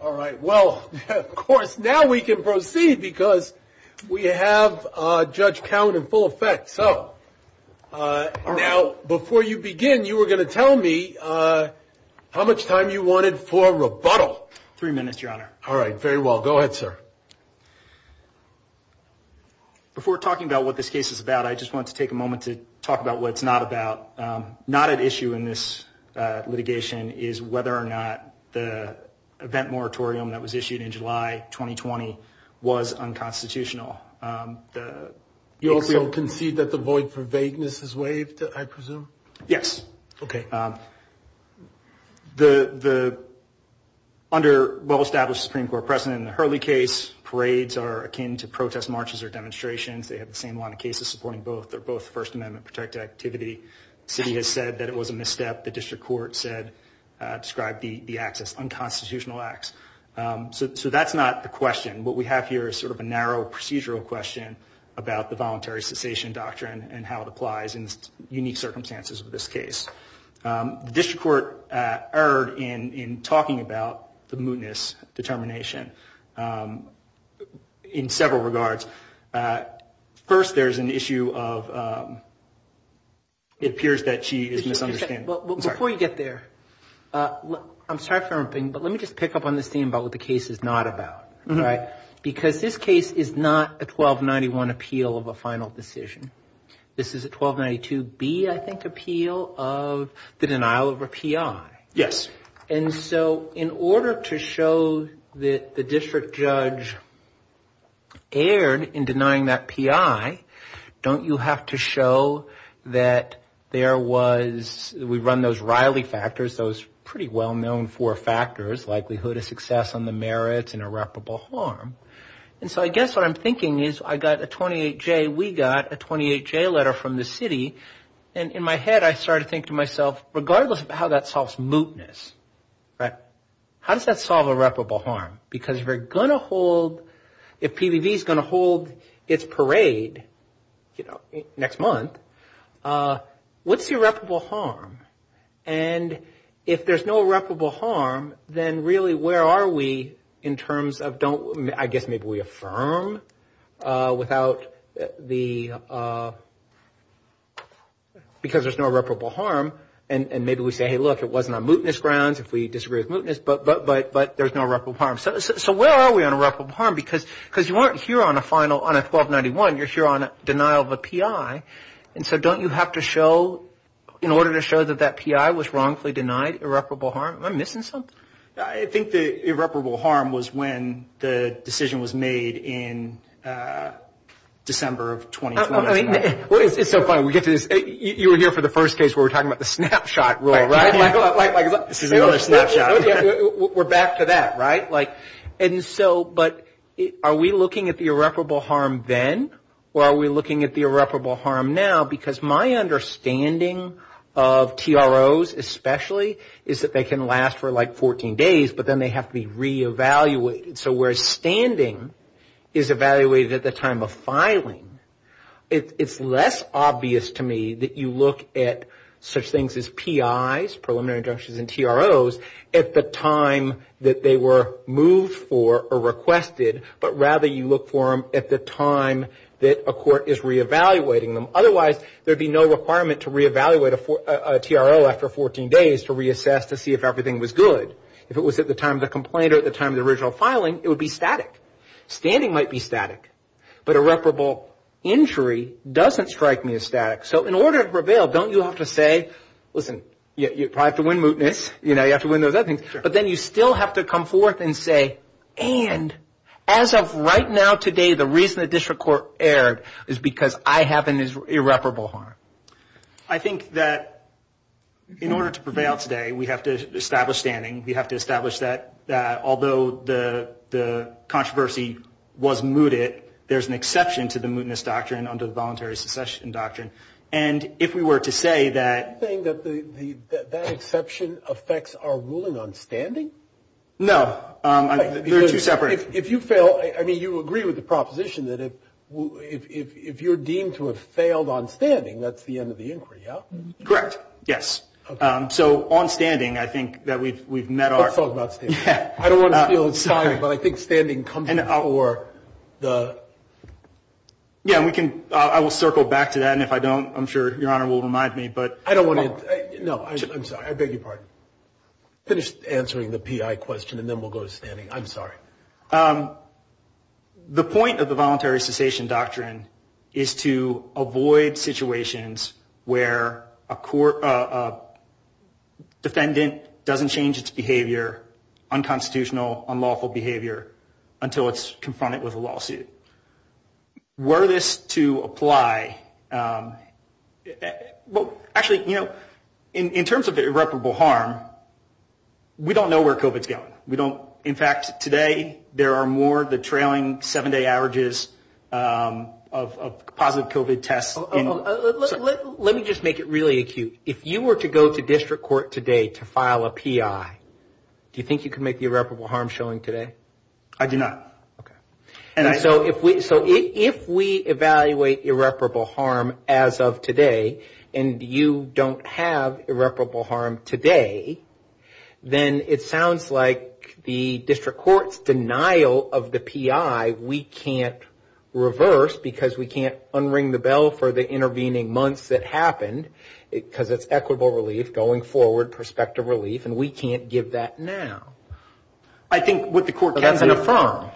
All right. Well, of course, now we can proceed because we have a judge count in full effect. So, now, before you begin, you were going to tell me how much time you wanted for rebuttal. Three minutes, Your Honor. All right. Very well. Go ahead, sir. Before talking about what this case is about, I just want to take a moment to talk about what it's not about. Not at issue in this litigation is whether or not the event moratorium that was issued in July 2020 was unconstitutional. You'll concede that the void for vagueness is waived, I presume? Yes. OK. The under well-established Supreme Court precedent in the Hurley case, parades are akin to protest marches or demonstrations. They have the same amount of cases supporting both. They're both First Amendment protected activity. The city has said that it was a misstep. The district court said, described the acts as unconstitutional acts. So that's not the question. What we have here is sort of a narrow procedural question about the voluntary cessation doctrine and how it applies in unique circumstances of this case. The district court erred in talking about the mootness determination in several regards. First, there's an issue of it appears that she is misunderstanding. Before you get there, I'm sorry for interrupting, but let me just pick up on the theme about what the case is not about. Because this case is not a 1291 appeal of a final decision. This is a 1292B, I think, appeal of the denial of a P.I. Yes. And so in order to show that the district judge erred in denying that P.I., don't you have to show that there was, we run those Riley factors, those pretty well-known four factors, likelihood of success on the merits and irreparable harm. And so I guess what I'm thinking is I got a 28J, we got a 28J letter from the city. And in my head I started to think to myself, regardless of how that solves mootness, how does that solve irreparable harm? Because if PVV is going to hold its parade next month, what's irreparable harm? And if there's no irreparable harm, then really where are we in terms of don't, I guess maybe we affirm without the, because there's no irreparable harm. And maybe we say, hey, look, it wasn't on mootness grounds, if we disagree with mootness, but there's no irreparable harm. So where are we on irreparable harm? Because you aren't here on a final, on a 1291, you're here on a denial of a P.I. And so don't you have to show, in order to show that that P.I. was wrongfully denied irreparable harm? Am I missing something? I think the irreparable harm was when the decision was made in December of 2012. It's so funny. You were here for the first case where we're talking about the snapshot rule, right? We're back to that, right? But are we looking at the irreparable harm then? Or are we looking at the irreparable harm now? Because my understanding of TROs especially is that they can last for like 14 days, but then they have to be re-evaluated. So whereas standing is evaluated at the time of filing, it's less obvious to me that you look at such things as P.I.s, at the time that they were moved for or requested, but rather you look for them at the time that a court is re-evaluating them. Otherwise, there would be no requirement to re-evaluate a TRO after 14 days to reassess to see if everything was good. If it was at the time of the complaint or at the time of the original filing, it would be static. Standing might be static, but irreparable injury doesn't strike me as static. So in order to prevail, don't you have to say, listen, you probably have to win mootness. You have to win those other things. But then you still have to come forth and say, and as of right now today, the reason the district court erred is because I have an irreparable harm. I think that in order to prevail today, we have to establish standing. We have to establish that although the controversy was mooted, that there's an exception to the mootness doctrine under the voluntary succession doctrine. And if we were to say that- You're saying that that exception affects our ruling on standing? No. They're two separate- If you fail, I mean, you will agree with the proposition that if you're deemed to have failed on standing, that's the end of the inquiry, yeah? Correct, yes. So on standing, I think that we've met our- Let's talk about standing. I don't want to feel inspired, but I think standing comes before the- Yeah, I will circle back to that, and if I don't, I'm sure Your Honor will remind me, but- I don't want to- No, I'm sorry. I beg your pardon. Finish answering the PI question, and then we'll go to standing. I'm sorry. The point of the voluntary succession doctrine is to avoid situations where a defendant doesn't change its behavior, unconstitutional, unlawful behavior, until it's confronted with a lawsuit. Were this to apply- Well, actually, you know, in terms of irreparable harm, we don't know where COVID's going. In fact, today, there are more of the trailing seven-day averages of positive COVID tests- Let me just make it really acute. If you were to go to district court today to file a PI, do you think you could make the irreparable harm showing today? I do not. Okay. If we evaluate irreparable harm as of today, and you don't have irreparable harm today, then it sounds like the district court's denial of the PI, we can't reverse, because we can't unring the bell for the intervening months that happened, because it's equitable relief going forward, prospective relief, and we can't give that now. I think what the court can do- But that's been affirmed,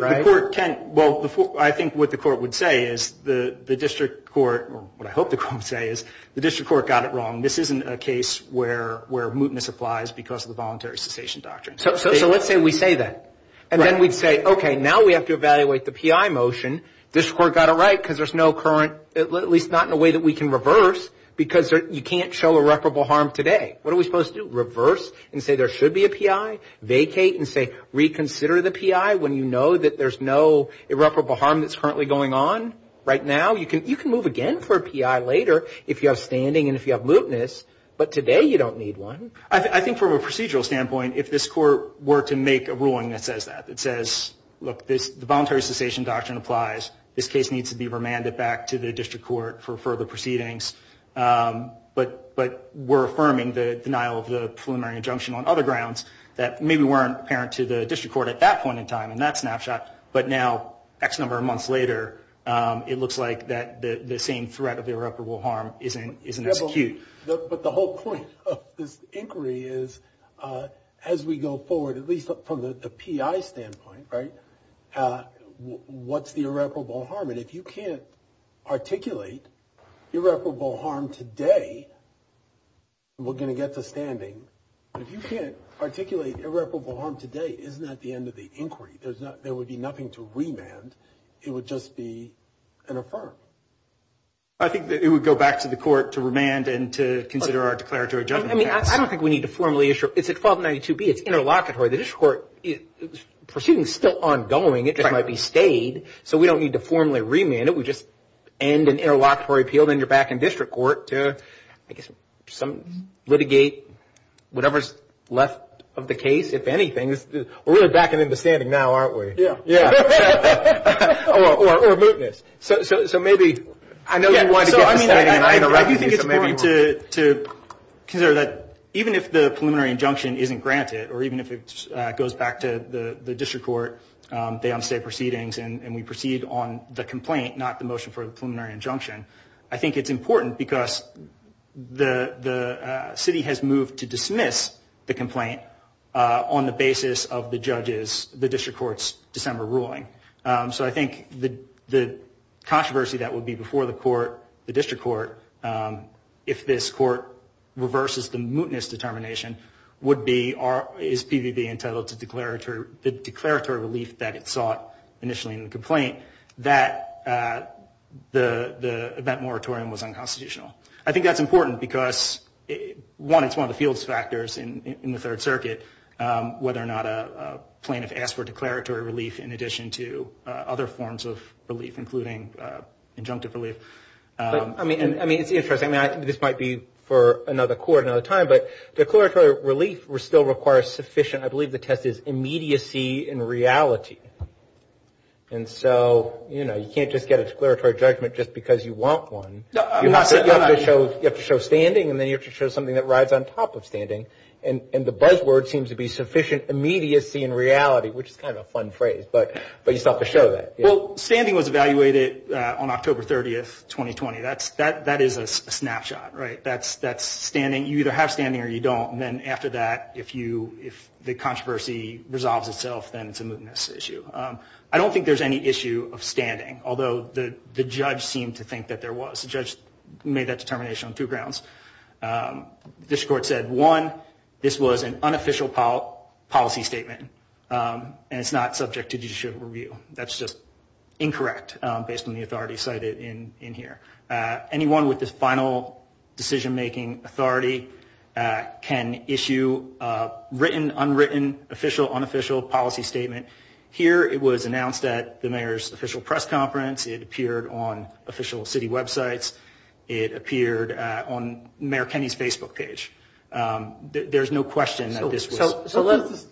right? Well, I think what the court would say is, the district court, or what I hope the court would say is, the district court got it wrong. This isn't a case where mootness applies because of the voluntary succession doctrine. So let's say we say that, and then we'd say, okay, now we have to evaluate the PI motion. District court got it right, because there's no current- at least not in a way that we can reverse, because you can't show irreparable harm today. What are we supposed to do? Reverse and say there should be a PI? Vacate and say reconsider the PI when you know that there's no irreparable harm that's currently going on? Right now? You can move again for a PI later if you have standing and if you have mootness, but today you don't need one. I think from a procedural standpoint, if this court were to make a ruling that says that, that says, look, the voluntary succession doctrine applies. This case needs to be remanded back to the district court for further proceedings, but we're affirming the denial of the preliminary injunction on other grounds that maybe weren't apparent to the district court at that point in time in that snapshot, but now X number of months later, it looks like the same threat of irreparable harm isn't as acute. But the whole point of this inquiry is, as we go forward, at least from the PI standpoint, right, what's the irreparable harm? And if you can't articulate irreparable harm today, we're going to get the standing. If you can't articulate irreparable harm today, isn't that the end of the inquiry? There would be nothing to remand. It would just be an affirm. I think it would go back to the court to remand and to consider our declaratory judgment. I mean, I don't think we need to formally issue. It's a 1292B. It's interlocutory. The district court, the proceedings are still ongoing. It just might be stayed. So we don't need to formally remand it. We just end an interlocutory appeal. Then you're back in district court to, I guess, litigate whatever's left of the case, if anything. We're in the back of the standing now, aren't we? Yeah. Yeah. Or a mootness. So maybe I know you wanted to go back to the standing. So maybe to consider that even if the preliminary injunction isn't granted or even if it goes back to the district court, they don't say proceedings and we proceed on the complaint, not the motion for the preliminary injunction, I think it's important because the city has moved to dismiss the complaint on the basis of the judges, the district court's December ruling. So I think the controversy that would be before the court, the district court, if this court reverses the mootness determination would be, is PVB entitled to the declaratory relief that it sought initially in the complaint, that the event moratorium was unconstitutional. I think that's important because, one, it's one of the field factors in the Third Circuit, whether or not a plaintiff asked for declaratory relief in addition to other forms of relief, including injunctive relief. I mean, it's interesting, Matt, this might be for another court another time, but declaratory relief still requires sufficient, I believe the test is, immediacy in reality. And so, you know, you can't just get a declaratory judgment just because you want one. You have to show standing and then you have to show something that rides on top of standing. And the buzzword seems to be sufficient immediacy in reality, which is kind of a fun phrase, but you still have to show that. Well, standing was evaluated on October 30, 2020. That is a snapshot, right? That's standing. You either have standing or you don't. And then after that, if the controversy resolves itself, then it's a mootness issue. I don't think there's any issue of standing, although the judge seemed to think that there was. The judge made that determination on two grounds. The district court said, one, this was an unofficial policy statement and it's not subject to judicial review. That's just incorrect based on the authority cited in here. Anyone with this final decision-making authority can issue a written, unwritten, official, unofficial policy statement. Here it was announced at the mayor's official press conference. It appeared on official city websites. It appeared on Mayor Kenney's Facebook page. There's no question that this was.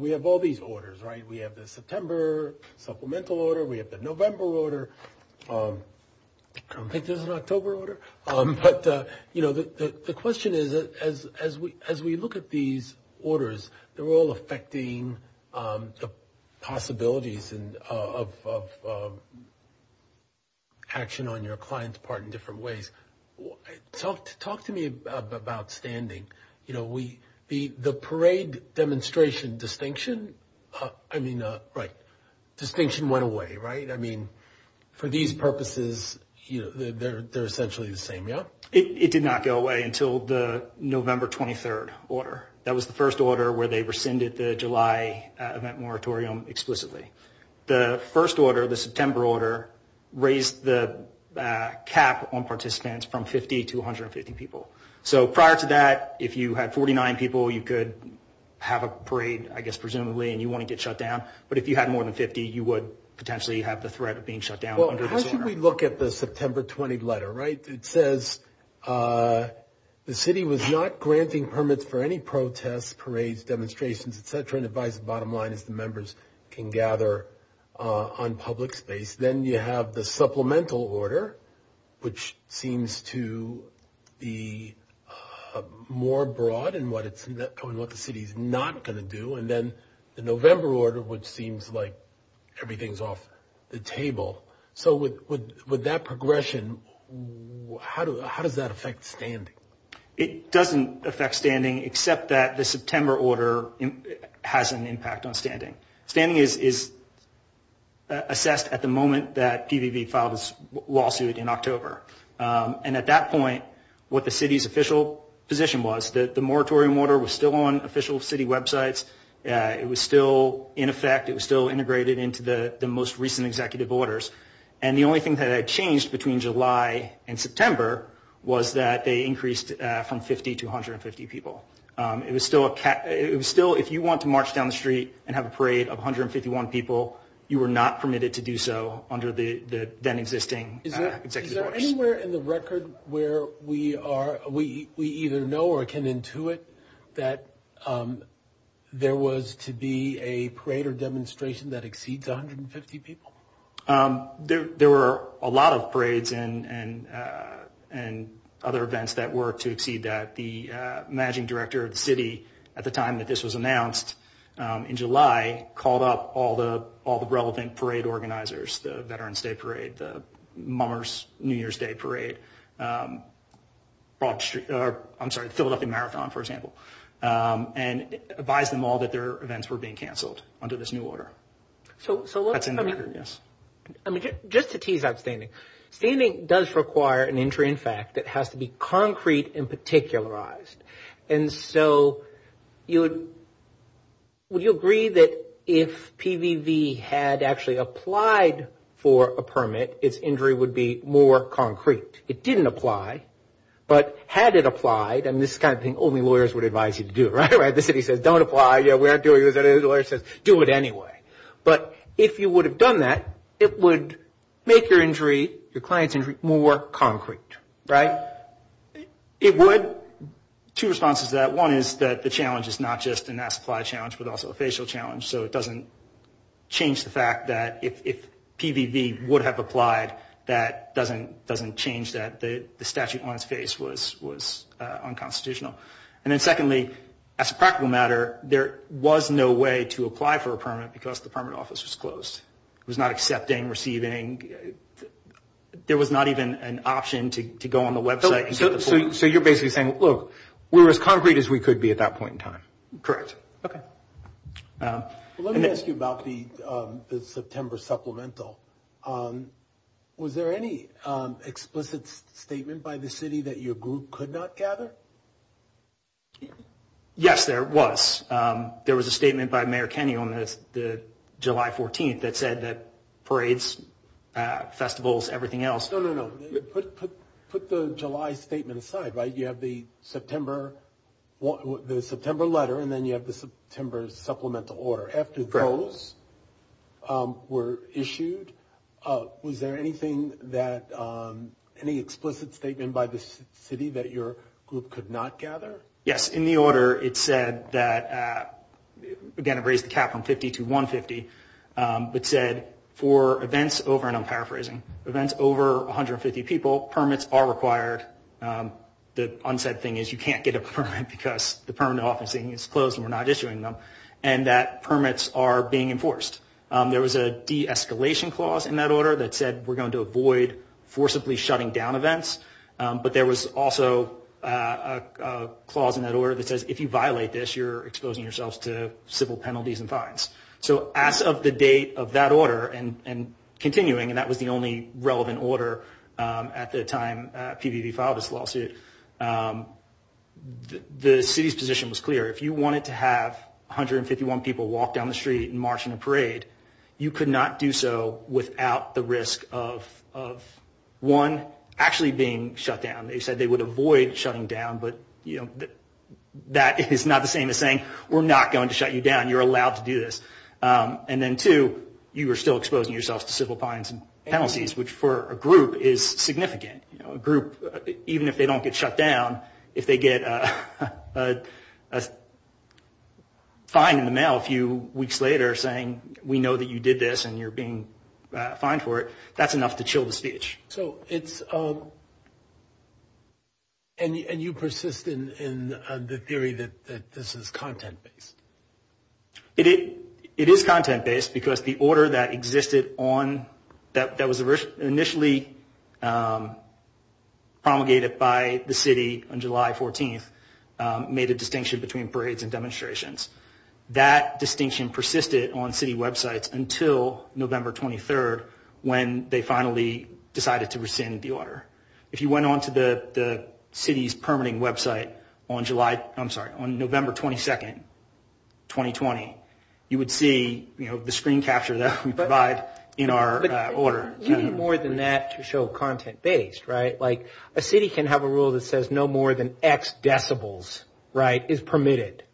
We have all these orders, right? We have the September supplemental order. We have the November order. I don't think there's an October order. The question is, as we look at these orders, they're all affecting the possibilities of action on your client's part in different ways. Talk to me about standing. The parade demonstration distinction, I mean, right, distinction went away, right? I mean, for these purposes, they're essentially the same, yeah? It did not go away until the November 23rd order. That was the first order where they rescinded the July event moratorium explicitly. The first order, the September order, raised the cap on participants from 50 to 150 people. So prior to that, if you had 49 people, you could have a parade, I guess, presumably, and you wouldn't get shut down. But if you had more than 50, you would potentially have the threat of being shut down. Well, how should we look at the September 20th letter, right? It says the city was not granting permits for any protests, parades, demonstrations, et cetera, and it buys the bottom line as the members can gather on public space. Then you have the supplemental order, which seems to be more broad in what the city is not going to do. And then the November order, which seems like everything's off the table. So with that progression, how does that affect standing? It doesn't affect standing except that the September order has an impact on standing. Standing is assessed at the moment that PVV filed its lawsuit in October. And at that point, what the city's official position was that the moratorium order was still on official city websites. It was still in effect. It was still integrated into the most recent executive orders. And the only thing that had changed between July and September was that they increased from 50 to 150 people. It was still if you want to march down the street and have a parade of 151 people, you were not permitted to do so under the then existing executive orders. Is there anywhere in the record where we either know or can intuit that there was to be a parade or demonstration that exceeds 150 people? There were a lot of parades and other events that were to exceed that. And I believe that the managing director of the city at the time that this was announced in July called up all the relevant parade organizers, the Veterans Day Parade, the Mars New Year's Day Parade, I'm sorry, the Civil Lucky Marathon, for example, and advised them all that their events were being canceled under this new order. So just to tease out standing, standing does require an injury in fact that has to be concrete and particularized. And so would you agree that if PVV had actually applied for a permit, its injury would be more concrete? It didn't apply, but had it applied, and this is the kind of thing only lawyers would advise you to do, right? The city says don't apply. We aren't doing it. The lawyer says do it anyway. But if you would have done that, it would make your injury, your client's injury, more concrete, right? Two responses to that. One is that the challenge is not just a mass supply challenge, but also a facial challenge. So it doesn't change the fact that if PVV would have applied, that doesn't change that the statute on its face was unconstitutional. And then secondly, as a practical matter, there was no way to apply for a permit because the permit office was closed. It was not accepting, receiving. There was not even an option to go on the website. So you're basically saying, look, we're as concrete as we could be at that point in time. Correct. Okay. Let me ask you about the September supplemental. Was there any explicit statement by the city that your group could not gather? Yes, there was. There was a statement by Mayor Kenyon the July 14th that said that parades, festivals, everything else. No, no, no. Put the July statement aside, right? You have the September letter and then you have the September supplemental order. Correct. And then when those were issued, was there anything that – any explicit statement by the city that your group could not gather? Yes, in the order it said that – again, I've raised the cap from 50 to 150. It said for events over – and I'm paraphrasing – events over 150 people, permits are required. The unsaid thing is you can't get a permit because the permanent office is closed and we're not issuing them. And that permits are being enforced. There was a de-escalation clause in that order that said we're going to avoid forcibly shutting down events. But there was also a clause in that order that says if you violate this, you're exposing yourselves to civil penalties and fines. So as of the date of that order and continuing, and that was the only relevant order at the time PVV filed this lawsuit, the city's position was clear. If you wanted to have 151 people walk down the street and march in a parade, you could not do so without the risk of, one, actually being shut down. They said they would avoid shutting down, but that is not the same as saying we're not going to shut you down. You're allowed to do this. And then, two, you are still exposing yourselves to civil fines and penalties, which for a group is significant. Even if they don't get shut down, if they get a fine in the mail a few weeks later saying we know that you did this and you're being fined for it, that's enough to chill the speech. So it's – and you persist in the theory that this is content-based. It is content-based because the order that existed on – that was initially promulgated by the city on July 14th made a distinction between parades and demonstrations. That distinction persisted on city websites until November 23rd when they finally decided to rescind the order. If you went on to the city's permitting website on July – I'm sorry, on November 22nd, 2020, you would see the screen capture that we provide in our order. More than that to show content-based, right? Like a city can have a rule that says no more than X decibels is permitted.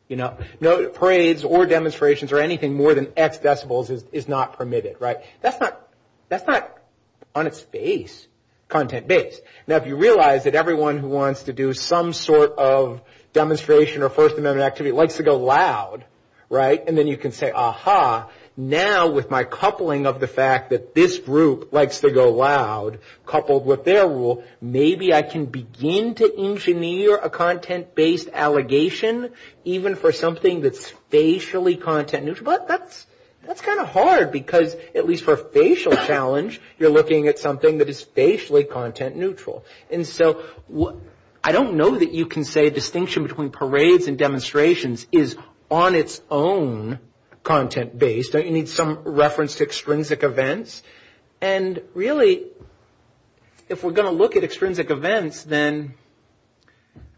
Parades or demonstrations or anything more than X decibels is not permitted, right? That's not on its base content-based. Now, if you realize that everyone who wants to do some sort of demonstration or First Amendment activity wants to go loud, right, and then you can say, aha, now with my coupling of the fact that this group likes to go loud coupled with their rule, maybe I can begin to engineer a content-based allegation even for something that's spatially content-neutral. That's kind of hard because at least for facial challenge, you're looking at something that is spatially content-neutral. And so I don't know that you can say distinction between parades and demonstrations is on its own content-based. You need some reference to extrinsic events. And really, if we're going to look at extrinsic events, then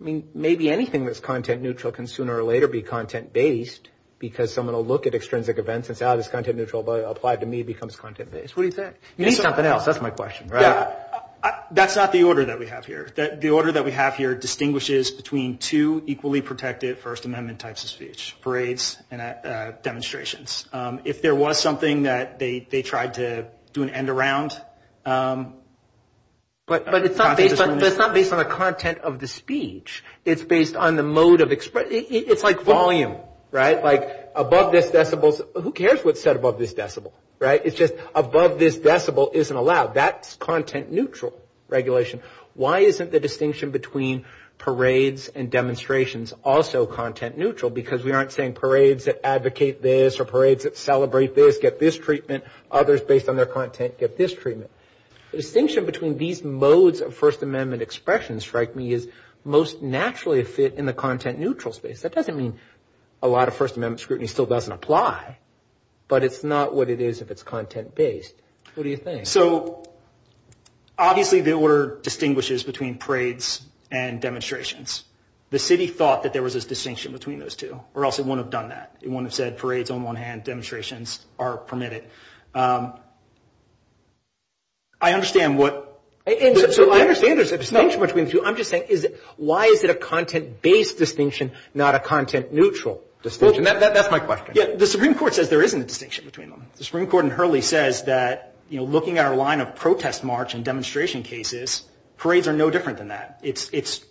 maybe anything that's content-neutral can sooner or later be content-based because I'm going to look at extrinsic events and say, oh, this content-neutral applied to me becomes content-based. What do you say? You need something else. That's my question, right? Yeah. That's not the order that we have here. The order that we have here distinguishes between two equally protected First Amendment types of speech, parades and demonstrations. If there was something that they tried to do an end around. But it's not based on the content of the speech. It's based on the mode of expression. It's like volume, right? Like above this decibel. Who cares what's said above this decibel, right? It's just above this decibel isn't allowed. That's content-neutral regulation. Why isn't the distinction between parades and demonstrations also content-neutral? Because we aren't saying parades that advocate this or parades that celebrate this get this treatment. Others based on their content get this treatment. The distinction between these modes of First Amendment expression strikes me as most naturally fit in the content-neutral space. That doesn't mean a lot of First Amendment scrutiny still doesn't apply. But it's not what it is if it's content-based. What do you think? So obviously the order distinguishes between parades and demonstrations. The city thought that there was a distinction between those two or else it wouldn't have done that. It wouldn't have said parades on one hand, demonstrations are permitted. I understand what... I understand there's a distinction between the two. I'm just saying why is it a content-based distinction, not a content-neutral distinction? That's my question. The Supreme Court says there isn't a distinction between them. The Supreme Court in Hurley says that looking at a line of protest march and demonstration cases, parades are no different than that. It's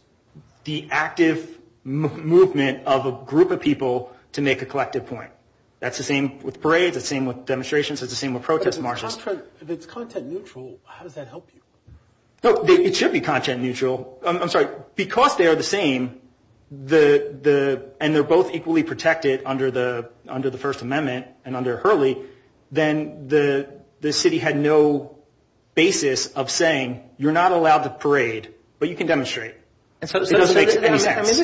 the active movement of a group of people to make a collective point. That's the same with parades. It's the same with demonstrations. It's the same with protest marches. If it's content-neutral, how does that help you? It should be content-neutral. I'm sorry. Because they are the same and they're both equally protected under the First Amendment and under Hurley, then the city had no basis of saying you're not allowed to parade, but you can demonstrate. This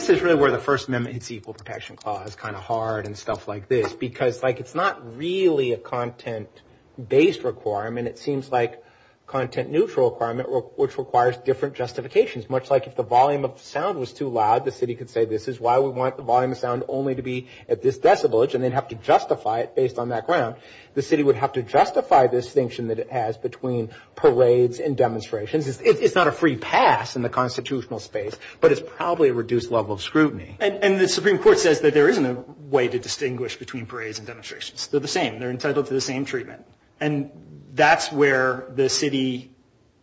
is really where the First Amendment's Equal Protection Clause is kind of hard and stuff like this, because it's not really a content-based requirement. It seems like a content-neutral requirement which requires different justifications, much like if the volume of sound was too loud, the city could say this is why we want the volume of sound only to be at this decibel and they'd have to justify it based on that ground. The city would have to justify the distinction that it has between parades and demonstrations. It's not a free pass in the constitutional space, but it's probably a reduced level of scrutiny. The Supreme Court says that there isn't a way to distinguish between parades and demonstrations. They're the same. They're entitled to the same treatment. That's where the city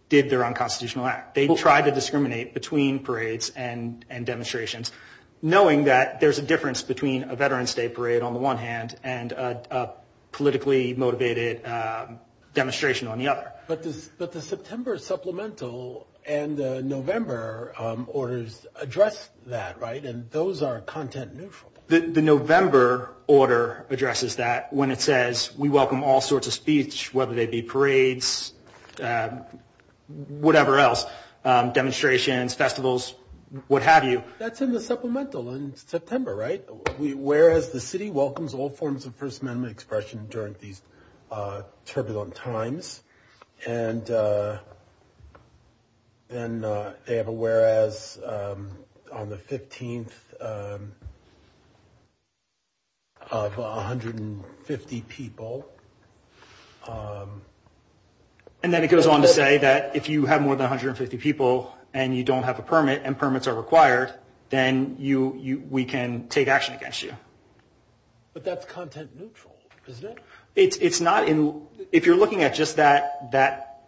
did their unconstitutional act. They tried to discriminate between parades and demonstrations, knowing that there's a difference between a Veterans Day parade on the one hand and a politically-motivated demonstration on the other. But the September Supplemental and the November orders address that, right? And those are content-neutral. The November order addresses that when it says we welcome all sorts of speech, whether they be parades, whatever else, demonstrations, festivals, what have you. That's in the supplemental in September, right? Whereas the city welcomes all forms of First Amendment expression during these turbulent times. And then they have a whereas on the 15th of 150 people. And then it goes on to say that if you have more than 150 people and you don't have a permit and permits are required, then we can take action against you. But that's content-neutral, isn't it? It's not. If you're looking at just that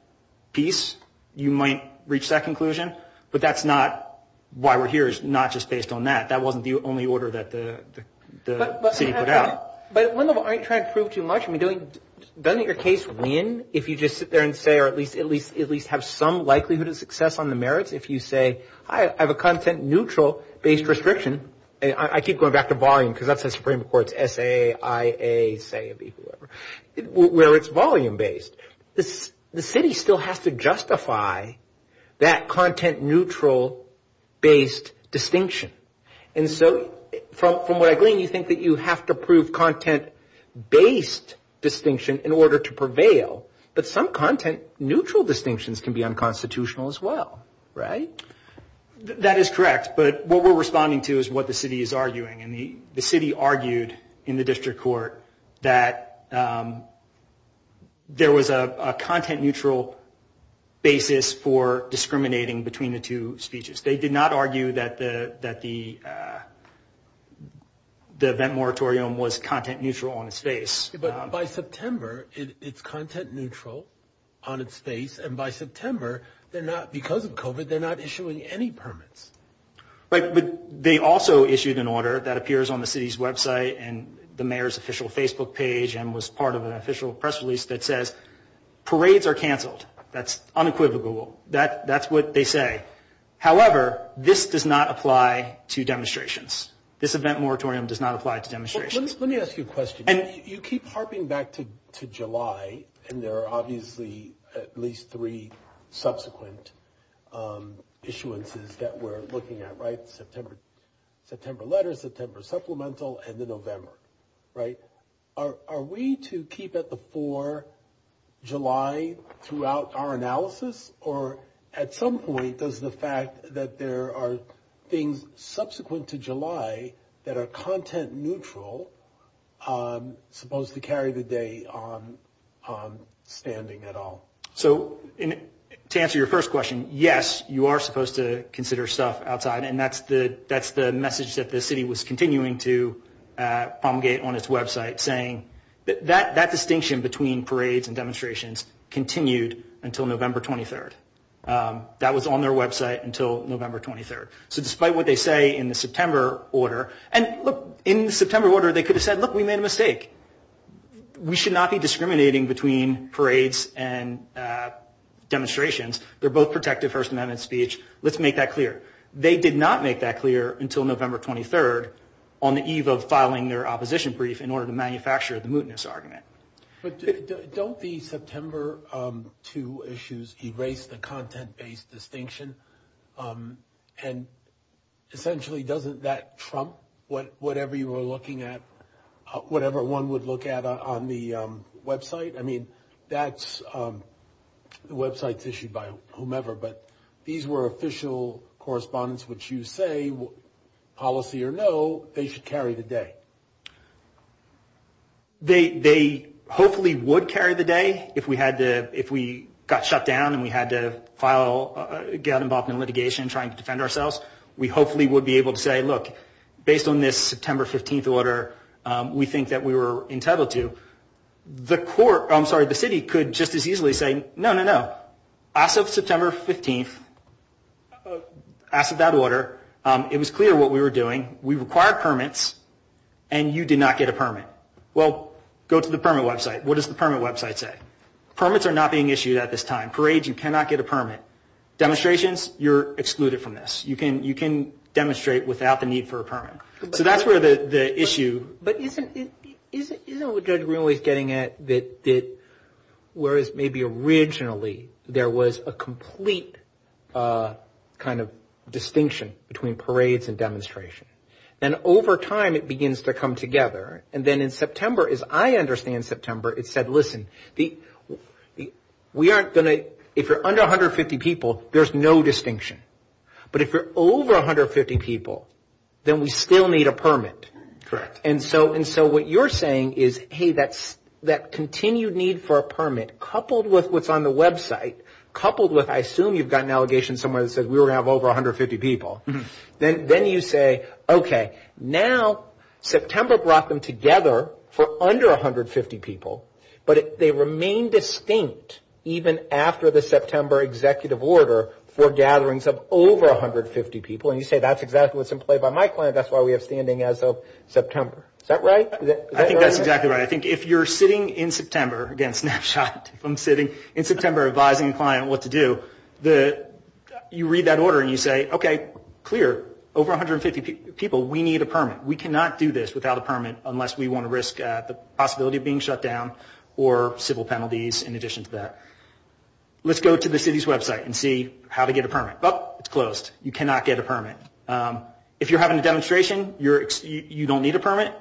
piece, you might reach that conclusion. But that's not why we're here. It's not just based on that. That wasn't the only order that the city put out. But at one level, aren't you trying to prove too much? Doesn't your case win if you just sit there and say or at least have some likelihood of success on the merits if you say, I have a content-neutral-based restriction. I keep going back to volume because that's the Supreme Court's S-A-I-A, where it's volume-based. The city still has to justify that content-neutral-based distinction. And so from what I believe, you think that you have to prove content-based distinction in order to prevail. But some content-neutral distinctions can be unconstitutional as well, right? That is correct. But what we're responding to is what the city is arguing. The city argued in the district court that there was a content-neutral basis for discriminating between the two speeches. They did not argue that the event moratorium was content-neutral on its face. But by September, it's content-neutral on its face. And by September, because of COVID, they're not issuing any permits. Right, but they also issued an order that appears on the city's website and the mayor's official Facebook page and was part of an official press release that says parades are canceled. That's unequivocal. That's what they say. However, this does not apply to demonstrations. This event moratorium does not apply to demonstrations. Let me ask you a question. You keep harping back to July, and there are obviously at least three subsequent issuances that we're looking at, right? September letter, September supplemental, and then November, right? Are we to keep at the four July throughout our analysis? Or at some point, does the fact that there are things subsequent to July that are content-neutral supposed to carry the day on standing at all? So to answer your first question, yes, you are supposed to consider stuff outside, and that's the message that the city was continuing to promulgate on its website, saying that that distinction between parades and demonstrations continued until November 23rd. That was on their website until November 23rd. So despite what they say in the September order, and look, in the September order, they could have said, look, we made a mistake. We should not be discriminating between parades and demonstrations. They're both protective First Amendment speech. Let's make that clear. They did not make that clear until November 23rd on the eve of filing their opposition brief in order to manufacture the mootness argument. But don't the September 2 issues erase the content-based distinction? And essentially, doesn't that trump whatever you were looking at, whatever one would look at on the website? I mean, the website's issued by whomever, but these were official correspondence, which you say, policy or no, they should carry the day. They hopefully would carry the day if we got shut down and we had to get involved in litigation trying to defend ourselves. We hopefully would be able to say, look, based on this September 15th order, we think that we were entitled to. The court, I'm sorry, the city could just as easily say, no, no, no. As of September 15th, as of that order, it was clear what we were doing. We required permits and you did not get a permit. Well, go to the permit website. What does the permit website say? Permits are not being issued at this time. Parades, you cannot get a permit. Demonstrations, you're excluded from this. You can demonstrate without the need for a permit. So that's where the issue. But isn't it what Judge Greenlee's getting at, that whereas maybe originally there was a complete kind of distinction between parades and demonstrations. Then over time it begins to come together. And then in September, as I understand September, it said, listen, if you're under 150 people, there's no distinction. But if you're over 150 people, then we still need a permit. Correct. And so what you're saying is, hey, that continued need for a permit, coupled with what's on the website, coupled with, I assume, you've got an allegation somewhere that says we were going to have over 150 people. Then you say, okay, now September brought them together for under 150 people, but they remain distinct even after the September executive order for gatherings of over 150 people. And you say that's exactly what's in play by my client. That's why we have standing as of September. Is that right? I think that's exactly right. I think if you're sitting in September, again, snapshot, if I'm sitting in September advising a client what to do, you read that order and you say, okay, clear, over 150 people, we need a permit. We cannot do this without a permit unless we want to risk the possibility of being shut down or civil penalties in addition to that. Let's go to the city's website and see how to get a permit. Oh, it's closed. You cannot get a permit. If you're having a demonstration, you don't need a permit,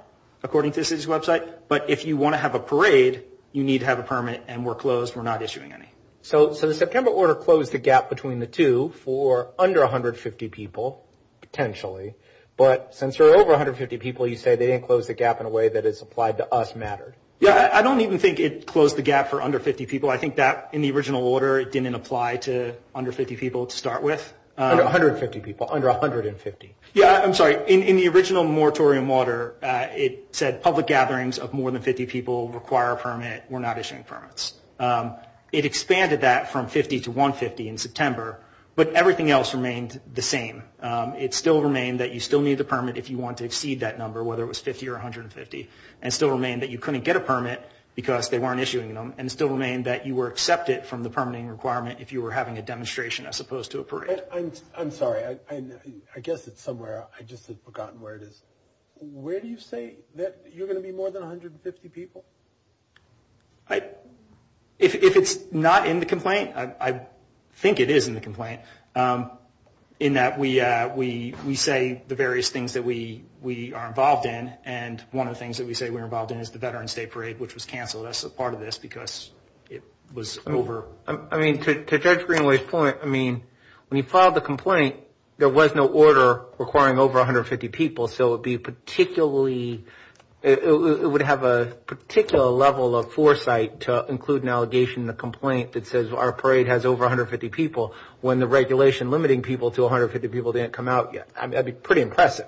according to the city's website. But if you want to have a parade, you need to have a permit, and we're closed, we're not issuing any. So the September order closed the gap between the two for under 150 people, potentially. But since there are over 150 people, you say they didn't close the gap in a way that is applied to us mattered. Yeah, I don't even think it closed the gap for under 50 people. I think that in the original order didn't apply to under 50 people to start with. Under 150 people, under 150. Yeah, I'm sorry. In the original moratorium order, it said public gatherings of more than 50 people require a permit, we're not issuing permits. It expanded that from 50 to 150 in September, but everything else remained the same. It still remained that you still needed a permit if you wanted to exceed that number, whether it was 50 or 150, and it still remained that you couldn't get a permit because they weren't issuing them, and it still remained that you were accepted from the permitting requirement if you were having a demonstration as opposed to a parade. I'm sorry. I guess it's somewhere. I just have forgotten where it is. Where do you say that you're going to be more than 150 people? If it's not in the complaint, I think it is in the complaint, in that we say the various things that we are involved in, and one of the things that we say we're involved in is the Veterans Day parade, which was canceled as a part of this because it was over. I mean, to Judge Greenway's point, I mean, when you filed the complaint, there was no order requiring over 150 people, so it would have a particular level of foresight to include an allegation in the complaint that says our parade has over 150 people when the regulation limiting people to 150 people didn't come out yet. I mean, that would be pretty impressive.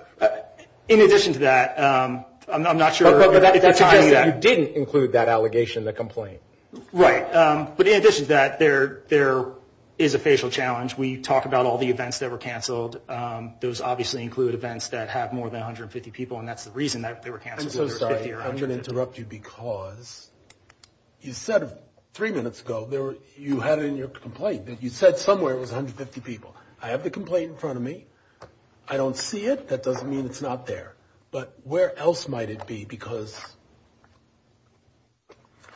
In addition to that, I'm not sure. You didn't include that allegation in the complaint. Right. But in addition to that, there is a facial challenge. We talk about all the events that were canceled. Those obviously include events that have more than 150 people, and that's the reason that they were canceled. I'm so sorry. I'm going to interrupt you because you said three minutes ago you have in your complaint that you said somewhere it was 150 people. I have the complaint in front of me. I don't see it. That doesn't mean it's not there. But where else might it be? Because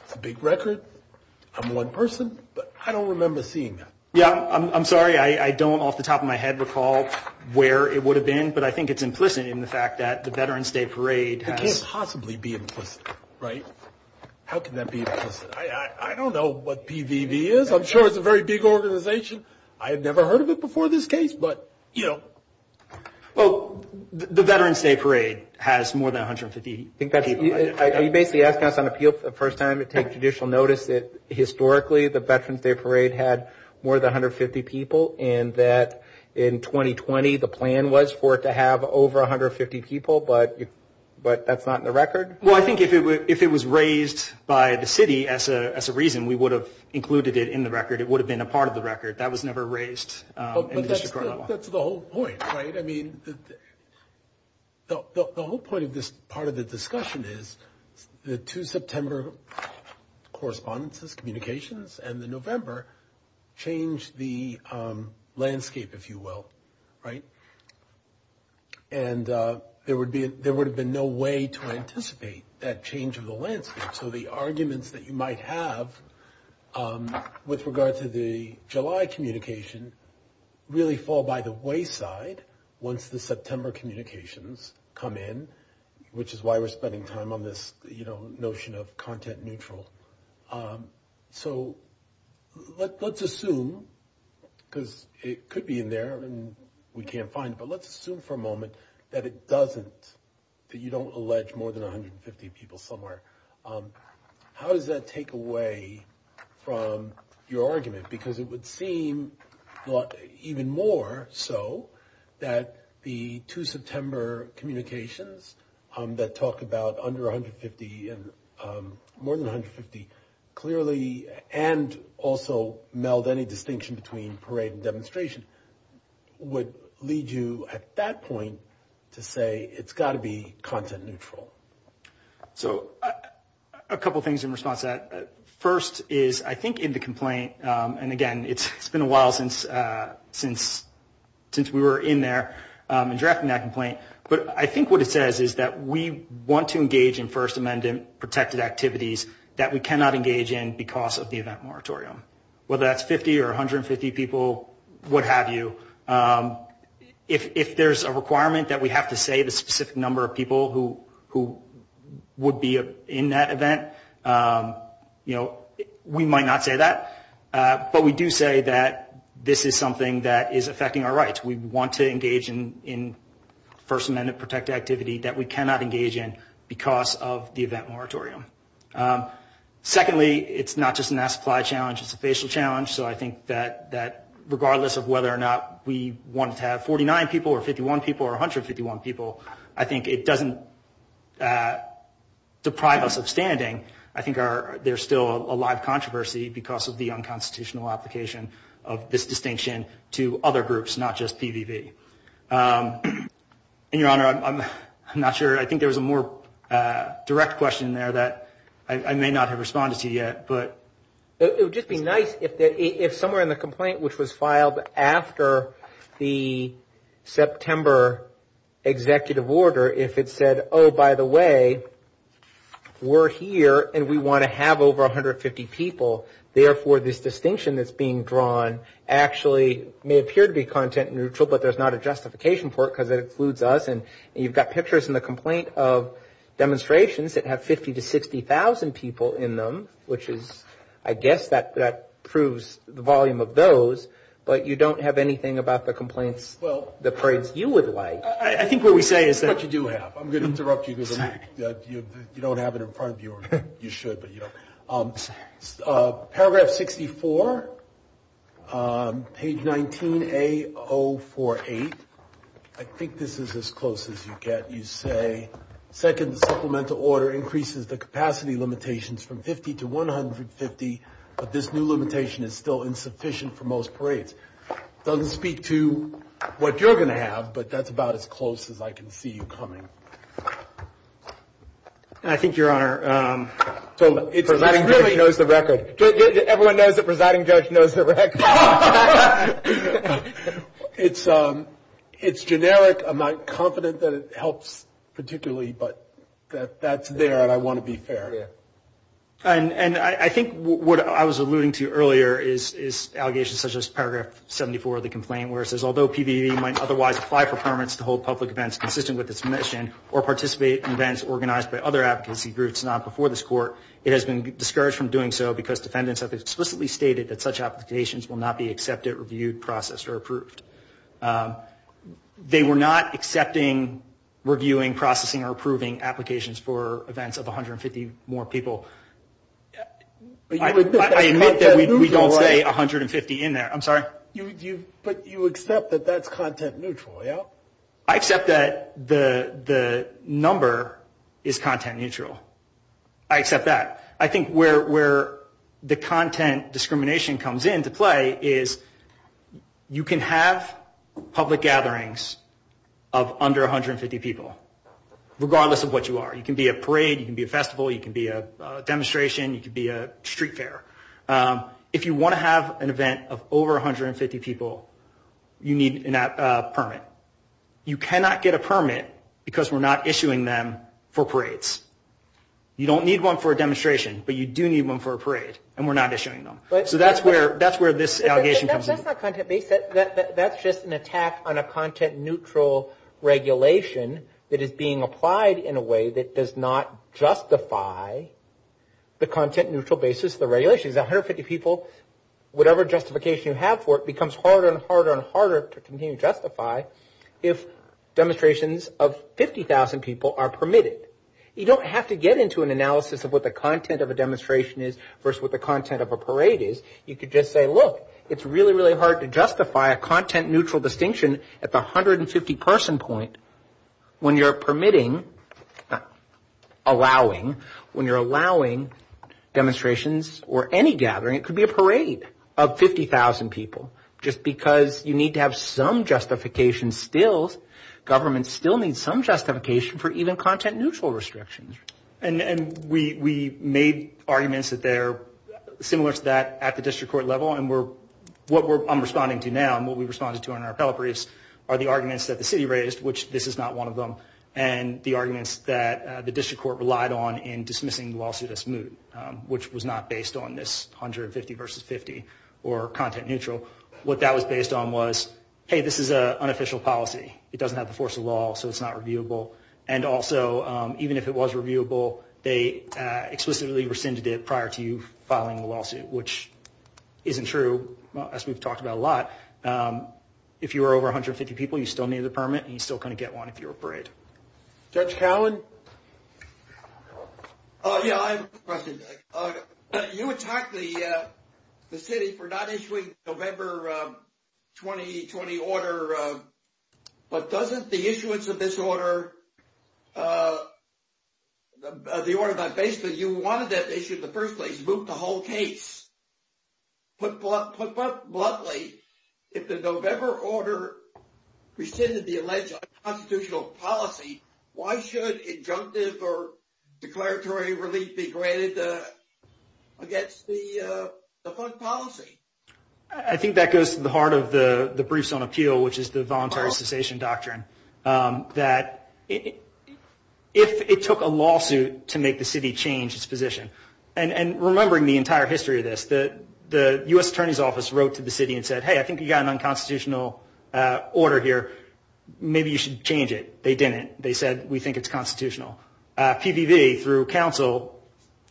it's a big record. I'm one person, but I don't remember seeing it. Yeah, I'm sorry. I don't off the top of my head recall where it would have been, but I think it's implicit in the fact that the Veterans Day Parade has – It can't possibly be implicit, right? How can that be implicit? I don't know what PVV is. I'm sure it's a very big organization. I've never heard of it before this case, but, you know. Well, the Veterans Day Parade has more than 150 people. You basically asked us on appeal for the first time to take judicial notice that historically the Veterans Day Parade had more than 150 people and that in 2020 the plan was for it to have over 150 people, but that's not in the record? Well, I think if it was raised by the city as a reason, we would have included it in the record. It would have been a part of the record. That was never raised. But that's the whole point, right? I mean, the whole point of this part of the discussion is the 2 September correspondences, communications, and the November changed the landscape, if you will, right? And there would have been no way to anticipate that change of the landscape. So the arguments that you might have with regard to the July communication really fall by the wayside once the September communications come in, which is why we're spending time on this, you know, notion of content neutral. So let's assume, because it could be in there and we can't find it, but let's assume for a moment that it doesn't, that you don't allege more than 150 people somewhere. How does that take away from your argument? Because it would seem even more so that the 2 September communications that talk about under 150 and more than 150 clearly and also meld any distinction between parade and demonstration would lead you at that point to say it's got to be content neutral. So a couple things in response to that. First is I think in the complaint, and again, it's been a while since we were in there and drafting that complaint, but I think what it says is that we want to engage in First Amendment protected activities that we cannot engage in because of the event moratorium. Whether that's 50 or 150 people, what have you, if there's a requirement that we have to say the specific number of people who would be in that event, you know, we might not say that, but we do say that this is something that is affecting our rights. We want to engage in First Amendment protected activity that we cannot engage in because of the event moratorium. Secondly, it's not just a mass supply challenge, it's a facial challenge. So I think that regardless of whether or not we want to have 49 people or 51 people or 151 people, I think it doesn't deprive us of standing. I think there's still a live controversy because of the unconstitutional application of this distinction to other groups, not just PVV. And, Your Honor, I'm not sure. I think there was a more direct question there that I may not have responded to yet. It would just be nice if somewhere in the complaint which was filed after the September executive order, if it said, oh, by the way, we're here and we want to have over 150 people, therefore this distinction that's being drawn actually may appear to be content neutral, but there's not a justification for it that includes us, and you've got pictures in the complaint of demonstrations that have 50,000 to 60,000 people in them, which is, I guess, that proves the volume of those, but you don't have anything about the complaints, the phrase you would like. I think what we say is that you do have. I'm going to interrupt you because you don't have it in front of you. You should, but you don't. Paragraph 64, page 19A-048, I think this is as close as you get. You say, second supplemental order increases the capacity limitations from 50 to 150, but this new limitation is still insufficient for most parades. It doesn't speak to what you're going to have, but that's about as close as I can see you coming. I think, Your Honor, So the presiding judge knows the record. Everyone knows the presiding judge knows the record. It's generic. I'm not confident that it helps particularly, but that's there and I want to be fair. And I think what I was alluding to earlier is allegations such as paragraph 74 of the complaint where it says, although PDE might otherwise apply for permits to hold public events consistent with its mission or participate in events organized by other advocacy groups not before this court, it has been discouraged from doing so because defendants have explicitly stated that such applications will not be accepted, reviewed, processed, or approved. They were not accepting, reviewing, processing, or approving applications for events of 150 more people. I admit that we don't say 150 in there. I'm sorry? But you accept that that's content neutral, yeah? I accept that the number is content neutral. I accept that. I think where the content discrimination comes into play is you can have public gatherings of under 150 people, regardless of what you are. You can be a parade. You can be a festival. You can be a demonstration. You can be a street fair. If you want to have an event of over 150 people, you need a permit. You cannot get a permit because we're not issuing them for parades. You don't need one for a demonstration, but you do need one for a parade, and we're not issuing them. So that's where this allegation comes in. That's just an attack on a content neutral regulation that is being applied in a way that does not justify the content neutral basis of the regulations. 150 people, whatever justification you have for it becomes harder and harder and harder to continue to justify if demonstrations of 50,000 people are permitted. You don't have to get into an analysis of what the content of a demonstration is versus what the content of a parade is. You could just say, look, it's really, really hard to justify a content neutral distinction at the 150 person point when you're permitting, allowing, when you're allowing demonstrations or any gathering. It could be a parade of 50,000 people. Just because you need to have some justification still, government still needs some justification for even content neutral restrictions. And we made arguments that they're similar to that at the district court level, and what I'm responding to now and what we responded to in our appellate briefs are the arguments that the city raised, which this is not one of them, and the arguments that the district court relied on in dismissing the lawsuit as moot, which was not based on this 150 versus 50 or content neutral. What that was based on was, hey, this is an unofficial policy. It doesn't have the force of law, so it's not reviewable. And also, even if it was reviewable, they explicitly rescinded it prior to you filing the lawsuit, which isn't true, unless we've talked about it a lot. If you were over 150 people, you still needed a permit, and you still couldn't get one if you were afraid. Judge Howland? Yeah, I have a question. You attacked the city for not issuing the November 2020 order, but doesn't the issuance of this order, the order by basis, you wanted that issued the first place, moot the whole case. Put bluntly, if the November order rescinded the alleged unconstitutional policy, why should injunctive or declaratory release be granted against the first policy? I think that goes to the heart of the briefs on appeal, which is the voluntary cessation doctrine, that if it took a lawsuit to make the city change its position, and remembering the entire history of this, the U.S. Attorney's Office wrote to the city and said, hey, I think you've got an unconstitutional order here. Maybe you should change it. They didn't. They said, we think it's constitutional. PVV, through counsel,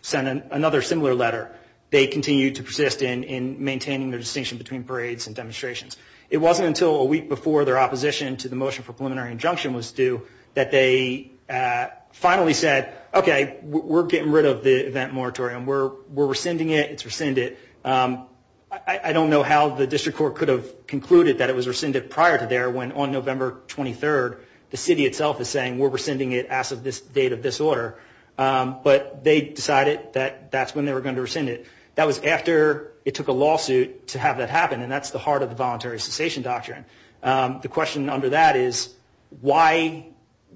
sent another similar letter. They continued to persist in maintaining the distinction between parades and demonstrations. It wasn't until a week before their opposition to the motion for preliminary injunction was due that they finally said, okay, we're getting rid of the event moratorium. We're rescinding it. It's rescinded. I don't know how the district court could have concluded that it was rescinded prior to there when on November 23rd the city itself is saying we're rescinding it as of this date of this order. But they decided that that's when they were going to rescind it. That was after it took a lawsuit to have that happen, and that's the heart of the voluntary cessation doctrine. The question under that is,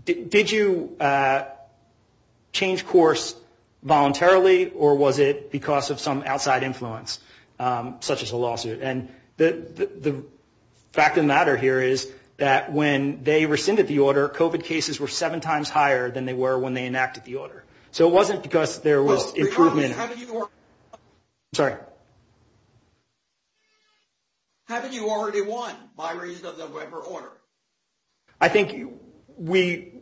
did you change course voluntarily, or was it because of some outside influence, such as a lawsuit? And the fact of the matter here is that when they rescinded the order, COVID cases were seven times higher than they were when they enacted the order. So it wasn't because there was improvement. I'm sorry. Haven't you already won by raising the November order? I think we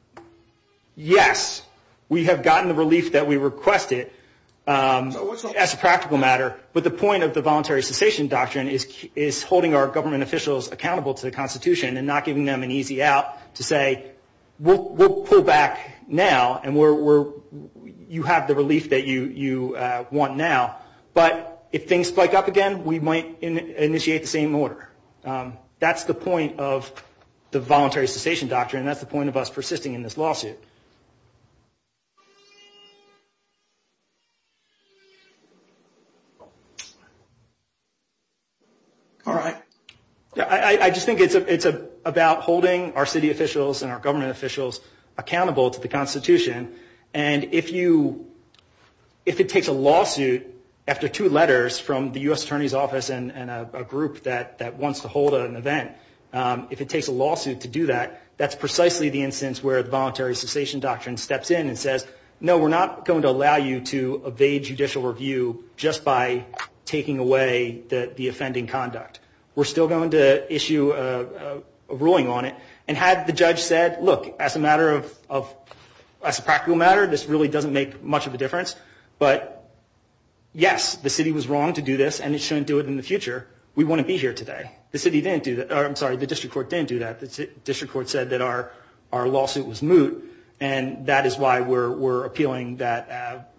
– yes, we have gotten the release that we requested as a practical matter, but the point of the voluntary cessation doctrine is holding our government officials accountable to the Constitution and not giving them an easy out to say we'll pull back now and you have the release that you want now, but if things spike up again, we might initiate the same order. That's the point of the voluntary cessation doctrine, and that's the point of us persisting in this lawsuit. All right. I just think it's about holding our city officials and our government officials accountable to the Constitution, and if it takes a lawsuit after two letters from the U.S. Attorney's Office and a group that wants to hold an event, if it takes a lawsuit to do that, the voluntary cessation doctrine steps in and says, no, we're not going to allow you to evade judicial review just by taking away the offending conduct. We're still going to issue a ruling on it, and had the judge said, look, as a matter of – as a practical matter, this really doesn't make much of a difference, but yes, the city was wrong to do this and it shouldn't do it in the future. We wouldn't be here today. The city didn't do – I'm sorry, the district court didn't do that. The district court said that our lawsuit was moot, and that is why we're appealing that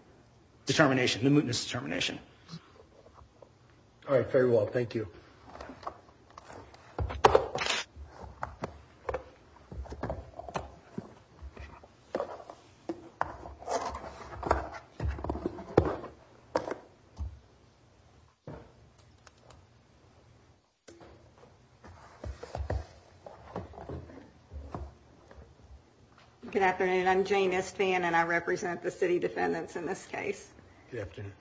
determination, the mootness determination. All right. Very well. Good afternoon. I'm Jane Estan, and I represent the city defendants in this case. Good afternoon.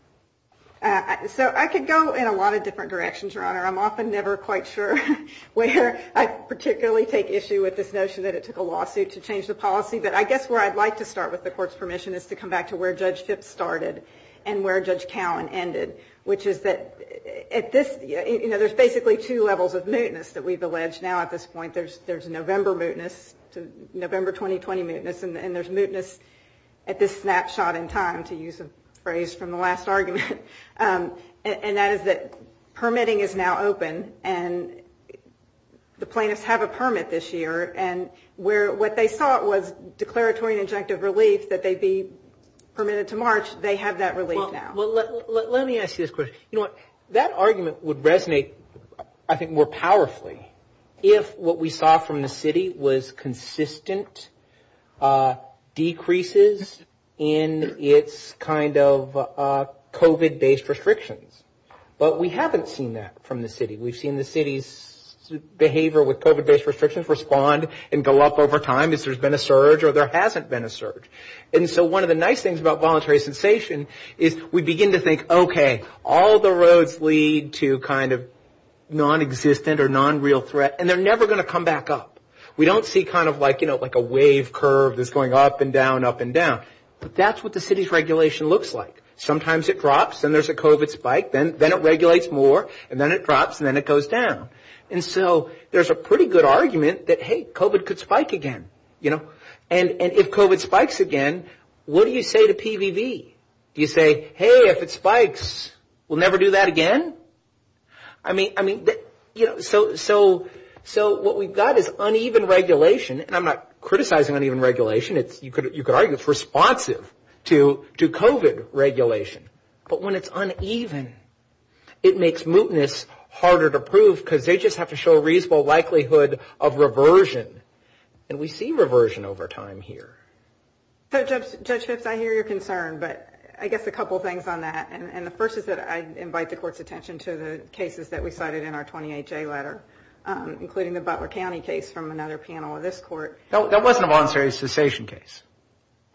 So I could go in a lot of different directions, Your Honor. I'm often never quite sure where I particularly take issue with this notion that it took a lawsuit to change the policy, but I guess where I'd like to start with the court's permission is to come back to where Judge Tipp started and where Judge Callen ended, which is that at this – you know, there's basically two levels of mootness that we've alleged now at this point. There's November mootness, November 2020 mootness, and there's mootness at this snapshot in time, to use a phrase from the last argument, and that is that permitting is now open, and the plaintiffs have a permit this year, and what they thought was declaratory and injunctive relief that they'd be permitted to march, they have that relief now. Well, let me ask you this question. You know, that argument would resonate, I think, more powerfully if what we saw from the city was consistent decreases in its kind of COVID-based restrictions, but we haven't seen that from the city. We've seen the city's behavior with COVID-based restrictions respond and go up over time as there's been a surge or there hasn't been a surge, and so one of the nice things about voluntary cessation is we begin to think, okay, all the roads lead to kind of non-existent or non-real threat, and they're never going to come back up. We don't see kind of like a wave curve that's going up and down, up and down, but that's what the city's regulation looks like. Sometimes it drops and there's a COVID spike, then it regulates more, and then it drops and then it goes down, and so there's a pretty good argument that, hey, COVID could spike again, you know, and if COVID spikes again, what do you say to PVV? Do you say, hey, if it spikes, we'll never do that again? I mean, you know, so what we've got is uneven regulation, and I'm not criticizing uneven regulation. You could argue it's responsive to COVID regulation, but when it's uneven, it makes mootness harder to prove because they just have to show a reasonable likelihood of reversion, and we see reversion over time here. So, Judge Fitts, I hear your concern, but I guess a couple things on that, and the first is that I invite the court's attention to the cases that we cited in our 28-J letter, including the Butler County case from another panel of this court. That wasn't a voluntary cessation case.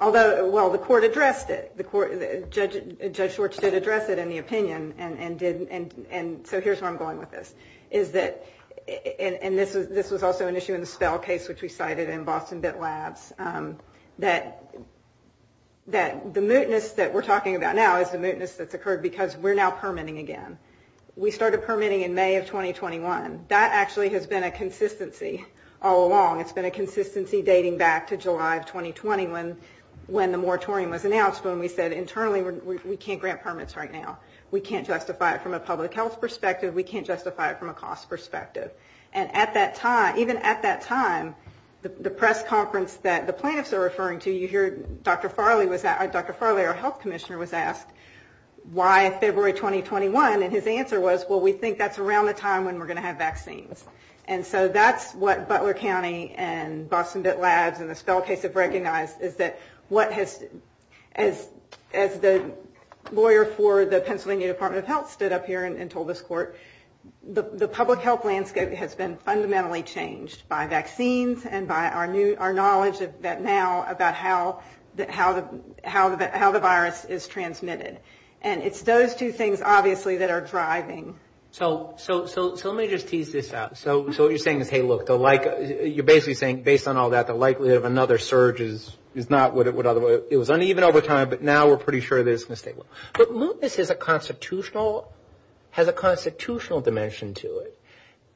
Although, well, the court addressed it. Judge Schwartz did address it in the opinion, and so here's where I'm going with this, and this was also an issue in the Spell case, which we cited in Boston Bit Labs, that the mootness that we're talking about now is the mootness that's occurred because we're now permitting again. We started permitting in May of 2021. That actually has been a consistency all along. It's been a consistency dating back to July of 2020 when the moratorium was announced when we said internally we can't grant permits right now. We can't justify it from a public health perspective. We can't justify it from a cost perspective, and at that time, even at that time, the press conference that the plaintiffs are referring to, you hear Dr. Farley, our health commissioner was asked why February 2021, and his answer was, well, we think that's around the time when we're going to have vaccines, and so that's what Butler County and Boston Bit Labs and the Spell case have recognized is that as the lawyer for the Pennsylvania Department of Health stood up here and told this court, the public health landscape has been fundamentally changed by vaccines and by our knowledge now about how the virus is transmitted, and it's those two things, obviously, that are driving. So let me just tease this out. So what you're saying is, hey, look, you're basically saying based on all that, the likelihood of another surge is not what it would otherwise be. It was uneven over time, but now we're pretty sure that it's going to stay low. But lupus has a constitutional dimension to it,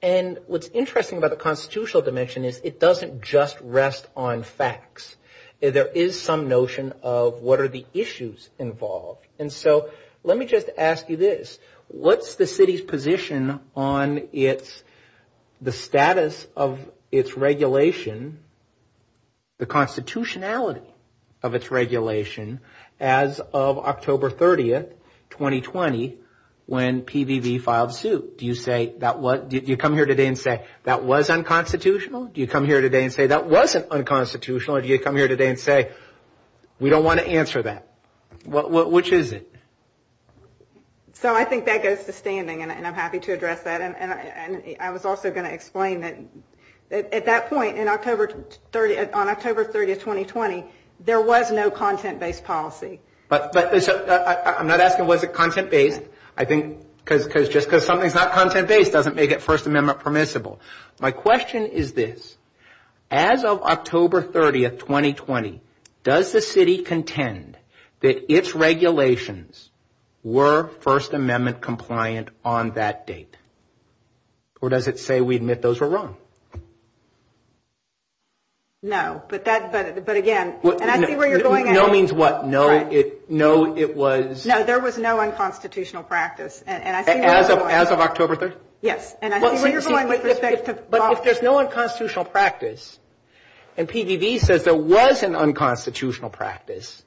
and what's interesting about the constitutional dimension is it doesn't just rest on facts. There is some notion of what are the issues involved, and so let me just ask you this. What's the city's position on the status of its regulation, the constitutionality of its regulation as of October 30, 2020, when PVV filed suit? Do you come here today and say that was unconstitutional? Do you come here today and say that wasn't unconstitutional? Or do you come here today and say we don't want to answer that? Which is it? So I think that goes to standing, and I'm happy to address that, and I was also going to explain that at that point on October 30, 2020, there was no content-based policy. I'm not asking was it content-based. Just because something's not content-based doesn't make it First Amendment permissible. My question is this. As of October 30, 2020, does the city contend that its regulations were First Amendment compliant on that date? Or does it say we admit those were wrong? No, but again, and I see where you're going. No means what? No, it was? No, there was no unconstitutional practice. As of October 30? Yes. But if there's no unconstitutional practice, and PVD says there was an unconstitutional practice,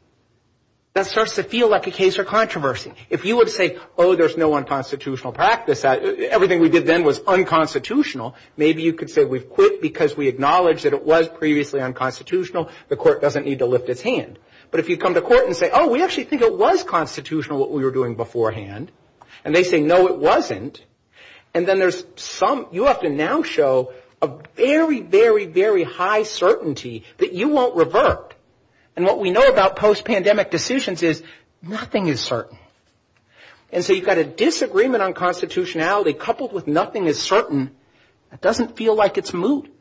that starts to feel like a case for controversy. If you would say, oh, there's no unconstitutional practice, everything we did then was unconstitutional, maybe you could say we've quit because we acknowledge that it was previously unconstitutional. The court doesn't need to lift its hand. But if you come to court and say, oh, we actually think it was constitutional what we were doing beforehand, and they say, no, it wasn't, and then you have to now show a very, very, very high certainty that you won't revert. And what we know about post-pandemic decisions is nothing is certain. And so you've got a disagreement on constitutionality coupled with nothing is certain. It doesn't feel like it's moot.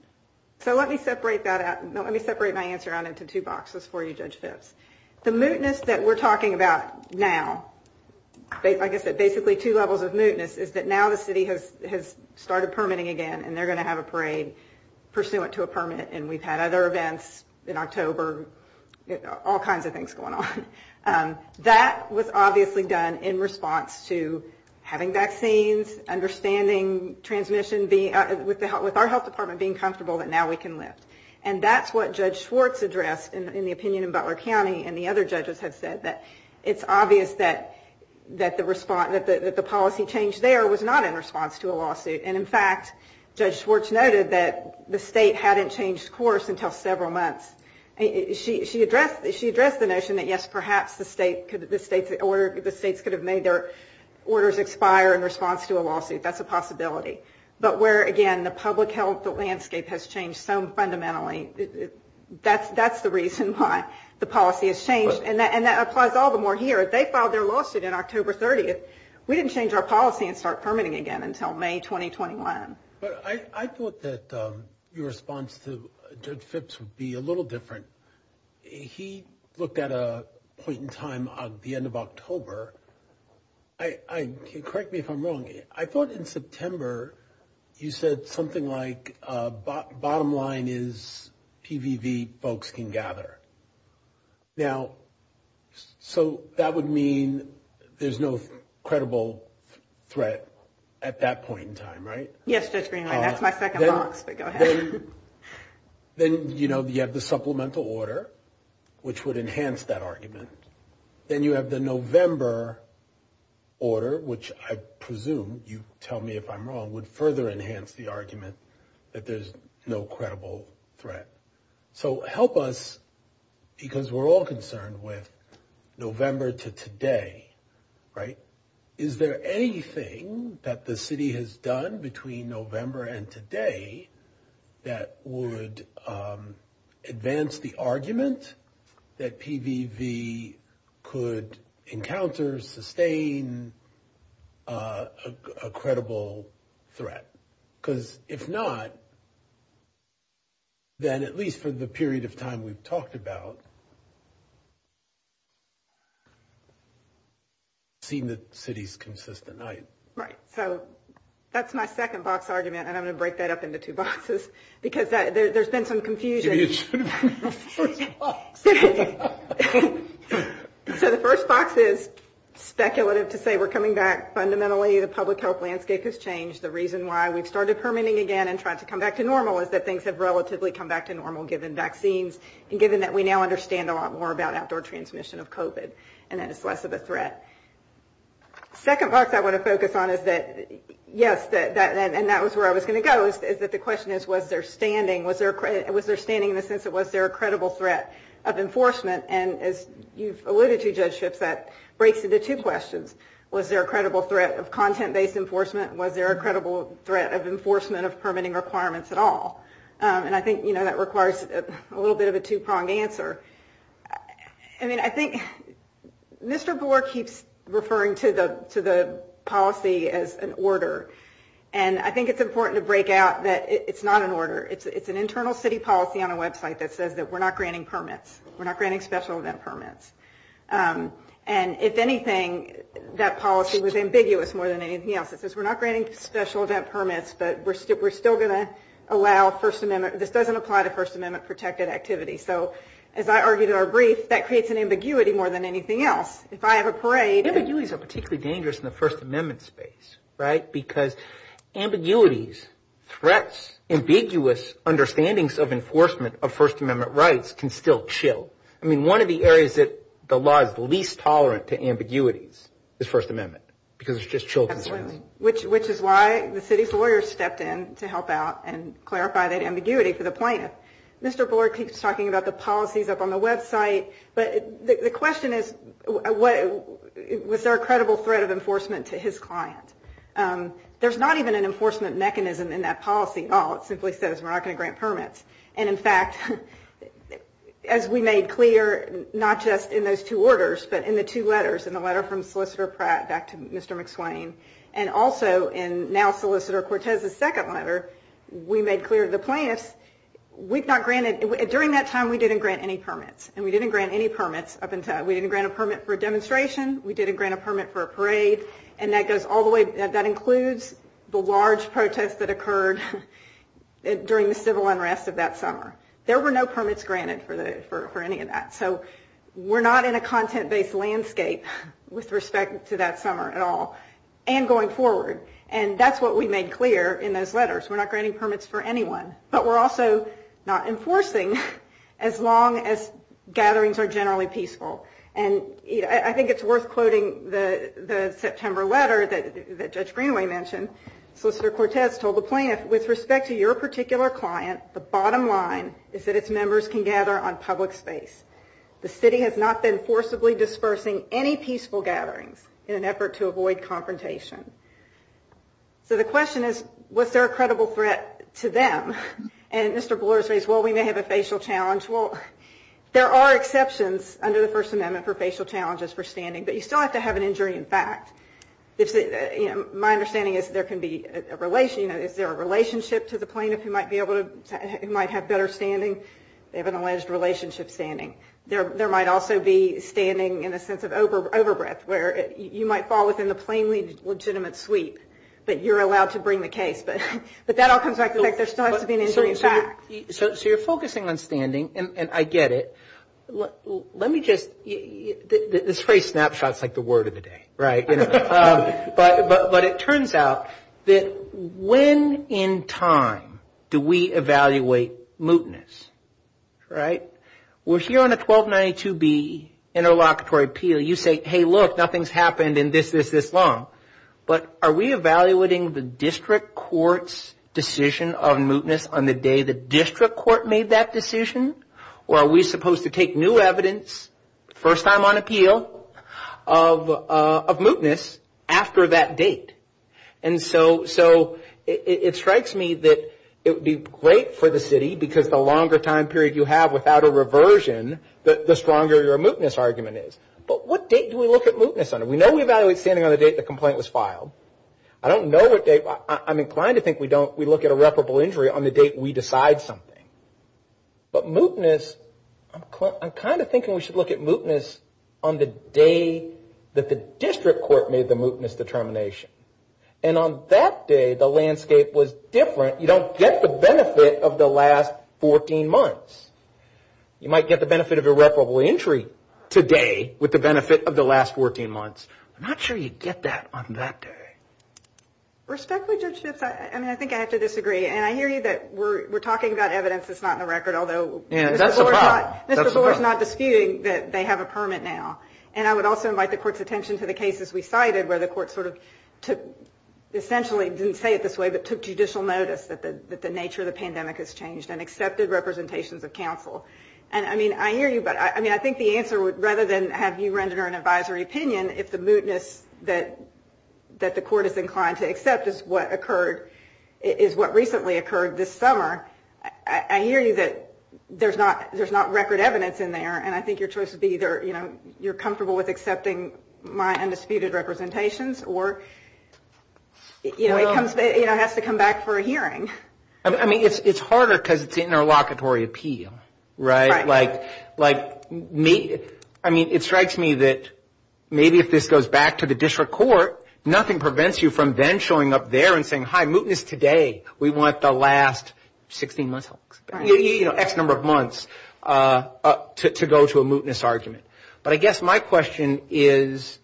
So let me separate that out. Let me separate my answer out into two boxes before you judge this. The mootness that we're talking about now, like I said, basically two levels of mootness, is that now the city has started permitting again, and they're going to have a parade pursuant to a permit, and we've had other events in October, all kinds of things going on. That was obviously done in response to having vaccines, understanding transmission, with our health department being comfortable that now we can lift. And that's what Judge Schwartz addressed in the opinion in Butler County, and the other judges have said, that it's obvious that the policy change there was not in response to a lawsuit. And, in fact, Judge Schwartz noted that the state hadn't changed course until several months. She addressed the notion that, yes, perhaps the states could have made their orders expire in response to a lawsuit. That's a possibility. But where, again, the public health landscape has changed so fundamentally, that's the reason why the policy has changed. And that applies all the more here. They filed their lawsuit in October 30th. We didn't change our policy and start permitting again until May 2021. But I thought that your response to Judge Phipps would be a little different. He looked at a point in time of the end of October. Correct me if I'm wrong. I thought in September you said something like, bottom line is PVV folks can gather. Now, so that would mean there's no credible threat at that point in time, right? Yes, Judge Green. That's my second thought, but go ahead. Then, you know, you have the supplemental order, which would enhance that argument. Then you have the November order, which I presume, you tell me if I'm wrong, would further enhance the argument that there's no credible threat. So help us, because we're all concerned with November to today, right? Is there anything that the city has done between November and today that would advance the argument that PVV could encounter, sustain a credible threat? Because if not, then at least for the period of time we've talked about, it would seem that cities consist of night. Right. So that's my second box argument, and I'm going to break that up into two boxes, because there's been some confusion. So the first box is speculative to say we're coming back fundamentally. The public health landscape has changed. The reason why we've started permitting again and trying to come back to normal is that things have relatively come back to normal, given vaccines, and given that we now understand a lot more about outdoor transmission of COVID and that it's less of a threat. The second box I want to focus on is that, yes, and that was where I was going to go, is that the question is was there standing, was there standing in the sense that was there a credible threat of enforcement? And as you've alluded to, Judge Schiff, that breaks into two questions. Was there a credible threat of content-based enforcement? Was there a credible threat of enforcement of permitting requirements at all? And I think, you know, that requires a little bit of a two-pronged answer. I mean, I think Mr. Gore keeps referring to the policy as an order, and I think it's important to break out that it's not an order. It's an internal city policy on a website that says that we're not granting permits. We're not granting special event permits. And if anything, that policy was ambiguous more than anything else. It says we're not granting special event permits, but we're still going to allow First Amendment – this doesn't apply to First Amendment-protected activity. So as I argued in our brief, that creates an ambiguity more than anything else. If I have a parade – It's particularly dangerous in the First Amendment space, right? Because ambiguities, threats, ambiguous understandings of enforcement of First Amendment rights can still chill. I mean, one of the areas that the law is least tolerant to ambiguities is First Amendment because it's just chilling. Absolutely, which is why the city's lawyers stepped in to help out and clarify that ambiguity to the plaintiff. Mr. Gore keeps talking about the policies up on the website. The question is, was there a credible threat of enforcement to his client? There's not even an enforcement mechanism in that policy at all. It simply says we're not going to grant permits. And in fact, as we made clear, not just in those two orders, but in the two letters, in the letter from Solicitor Pratt back to Mr. McSwain, and also in now Solicitor Cortez's second letter, we made clear to the plaintiff, we've not granted – during that time, we didn't grant any permits. And we didn't grant any permits up until – we didn't grant a permit for a demonstration. We didn't grant a permit for a parade. And that goes all the way – that includes the large protest that occurred during the civil unrest of that summer. There were no permits granted for any of that. So we're not in a content-based landscape with respect to that summer at all and going forward. And that's what we made clear in those letters. We're not granting permits for anyone, but we're also not enforcing as long as gatherings are generally peaceful. And I think it's worth quoting the September letter that Judge Greenway mentioned. Solicitor Cortez told the plaintiff, with respect to your particular client, the bottom line is that its members can gather on public space. The city has not been forcibly dispersing any peaceful gatherings in an effort to avoid confrontation. So the question is, was there a credible threat to them? And Mr. Bloor says, well, we may have a facial challenge. Well, there are exceptions under the First Amendment for facial challenges for standing, but you still have to have an injury in fact. My understanding is there can be a – if there are relationships with the plaintiff who might be able to – who might have better standing, they have an alleged relationship standing. There might also be standing in a sense of over-breath where you might fall within the plainly legitimate suite that you're allowed to bring the case. But that all comes back to the fact there still has to be an injury in fact. So you're focusing on standing, and I get it. Let me just – this phrase snapshots like the word of the day, right? But it turns out that when in time do we evaluate mootness? Right? We're here on a 1292B interlocutory appeal. You say, hey, look, nothing's happened in this, this, this long. But are we evaluating the district court's decision on mootness on the day the district court made that decision? Or are we supposed to take new evidence, first time on appeal, of mootness after that date? And so it strikes me that it would be great for the city because the longer time period you have without a reversion, the stronger your mootness argument is. But what date do we look at mootness on? We know we evaluate standing on the date the complaint was filed. I don't know what date – I'm inclined to think we look at irreparable injury on the date we decide something. But mootness – I'm kind of thinking we should look at mootness on the day that the district court made the mootness determination. And on that day, the landscape was different. You don't get the benefit of the last 14 months. You might get the benefit of irreparable injury today with the benefit of the last 14 months. I'm not sure you get that on that day. Respectfully, Judge Schiff, I mean, I think I have to disagree. And I hear you that we're talking about evidence that's not in the record, although – And that's a fact. Mr. Gore's not disputing that they have a permit now. And I would also invite the court's attention to the cases we cited where the court sort of took – essentially didn't say it this way, but took judicial notice that the nature of the pandemic has changed and accepted representations of counsel. And, I mean, I hear you, but, I mean, I think the answer would – rather than have you render an advisory opinion, if the mootness that the court is inclined to accept is what occurred – is what recently occurred this summer, I hear you that there's not record evidence in there. And I think your choice would be either you're comfortable with accepting my undisputed representations or it has to come back for a hearing. I mean, it's harder because it's the interlocutory appeal, right? Right. Like, I mean, it strikes me that maybe if this goes back to the district court, nothing prevents you from then showing up there and saying, hi, mootness today. We want the last 16 months, you know, X number of months to go to a mootness argument. But I guess my question is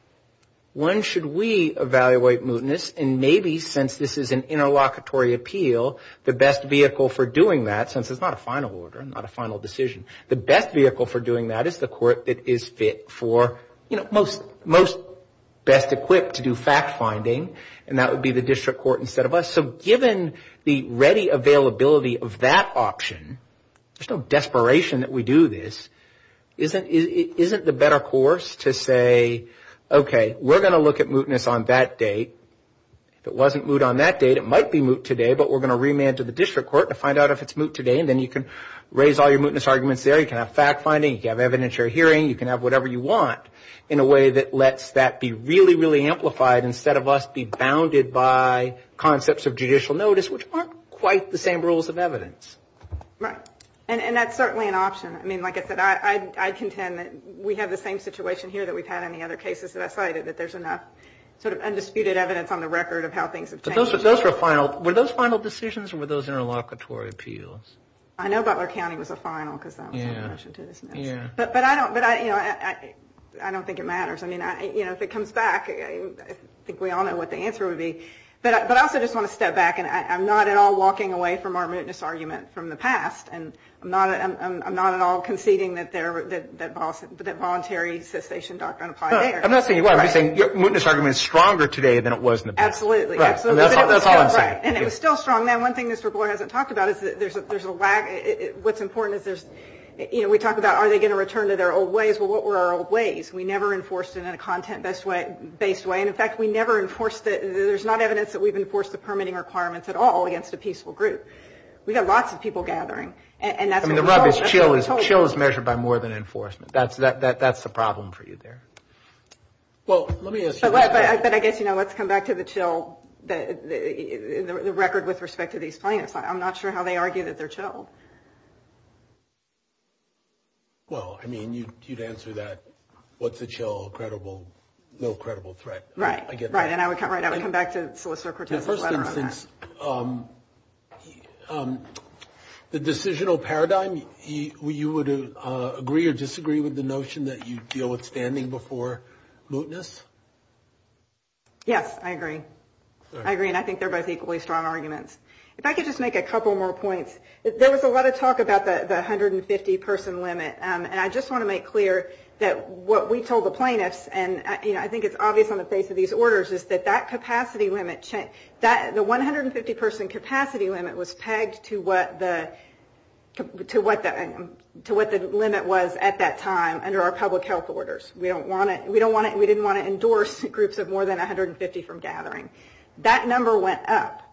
when should we evaluate mootness? And maybe since this is an interlocutory appeal, the best vehicle for doing that, since it's not a final order, not a final decision, the best vehicle for doing that is the court that is fit for, you know, most best equipped to do fact-finding, and that would be the district court instead of us. So given the ready availability of that option, there's no desperation that we do this. Isn't it the better course to say, okay, we're going to look at mootness on that date. If it wasn't moot on that date, it might be moot today, but we're going to remand to the district court to find out if it's moot today, and then you can raise all your mootness arguments there. You can have fact-finding. You can have evidentiary hearing. You can have whatever you want in a way that lets that be really, really amplified instead of us be bounded by concepts of judicial notice, which aren't quite the same rules of evidence. Right. And that's certainly an option. I mean, like I said, I contend that we have the same situation here that we've had in the other cases that I've cited, that there's enough sort of undisputed evidence on the record of how things have changed. Were those final decisions, or were those interlocutory appeals? I know Butler County was a final, because I'm not attached to this. Yeah. But I don't think it matters. I mean, if it comes back, I think we all know what the answer would be. But I also just want to step back, and I'm not at all walking away from our mootness argument from the past, and I'm not at all conceding that voluntary cessation doctrine applies there. No, I'm not saying you are. I'm just saying your mootness argument is stronger today than it was in the past. Absolutely. Right. And it's still strong. Now, one thing Mr. Boyle hasn't talked about is that there's a lag. What's important is there's, you know, we talk about are they going to return to their old ways? Well, what were our old ways? We never enforced it in a content-based way. And, in fact, we never enforced it. There's not evidence that we've enforced the permitting requirements at all against a peaceful group. We've got lots of people gathering. I mean, the rub is chill. Chill is measured by more than enforcement. That's the problem for you there. Well, let me ask you. But I guess, you know, let's come back to the chill, the record with respect to these plaintiffs. I'm not sure how they argue that they're chill. Well, I mean, you'd answer that, what's a chill, credible, no credible threat. Right. And I would come back to solicitor-participant. In this instance, the decisional paradigm, you would agree or disagree with the notion that you deal with standing before mootness? Yes, I agree. I agree, and I think they're both equally strong arguments. If I could just make a couple more points. There was a lot of talk about the 150-person limit, and I just want to make clear that what we told the plaintiffs, and I think it's obvious on the face of these orders, is that that capacity limit changed. The 150-person capacity limit was pegged to what the limit was at that time under our public health orders. We didn't want to endorse groups of more than 150 from gathering. That number went up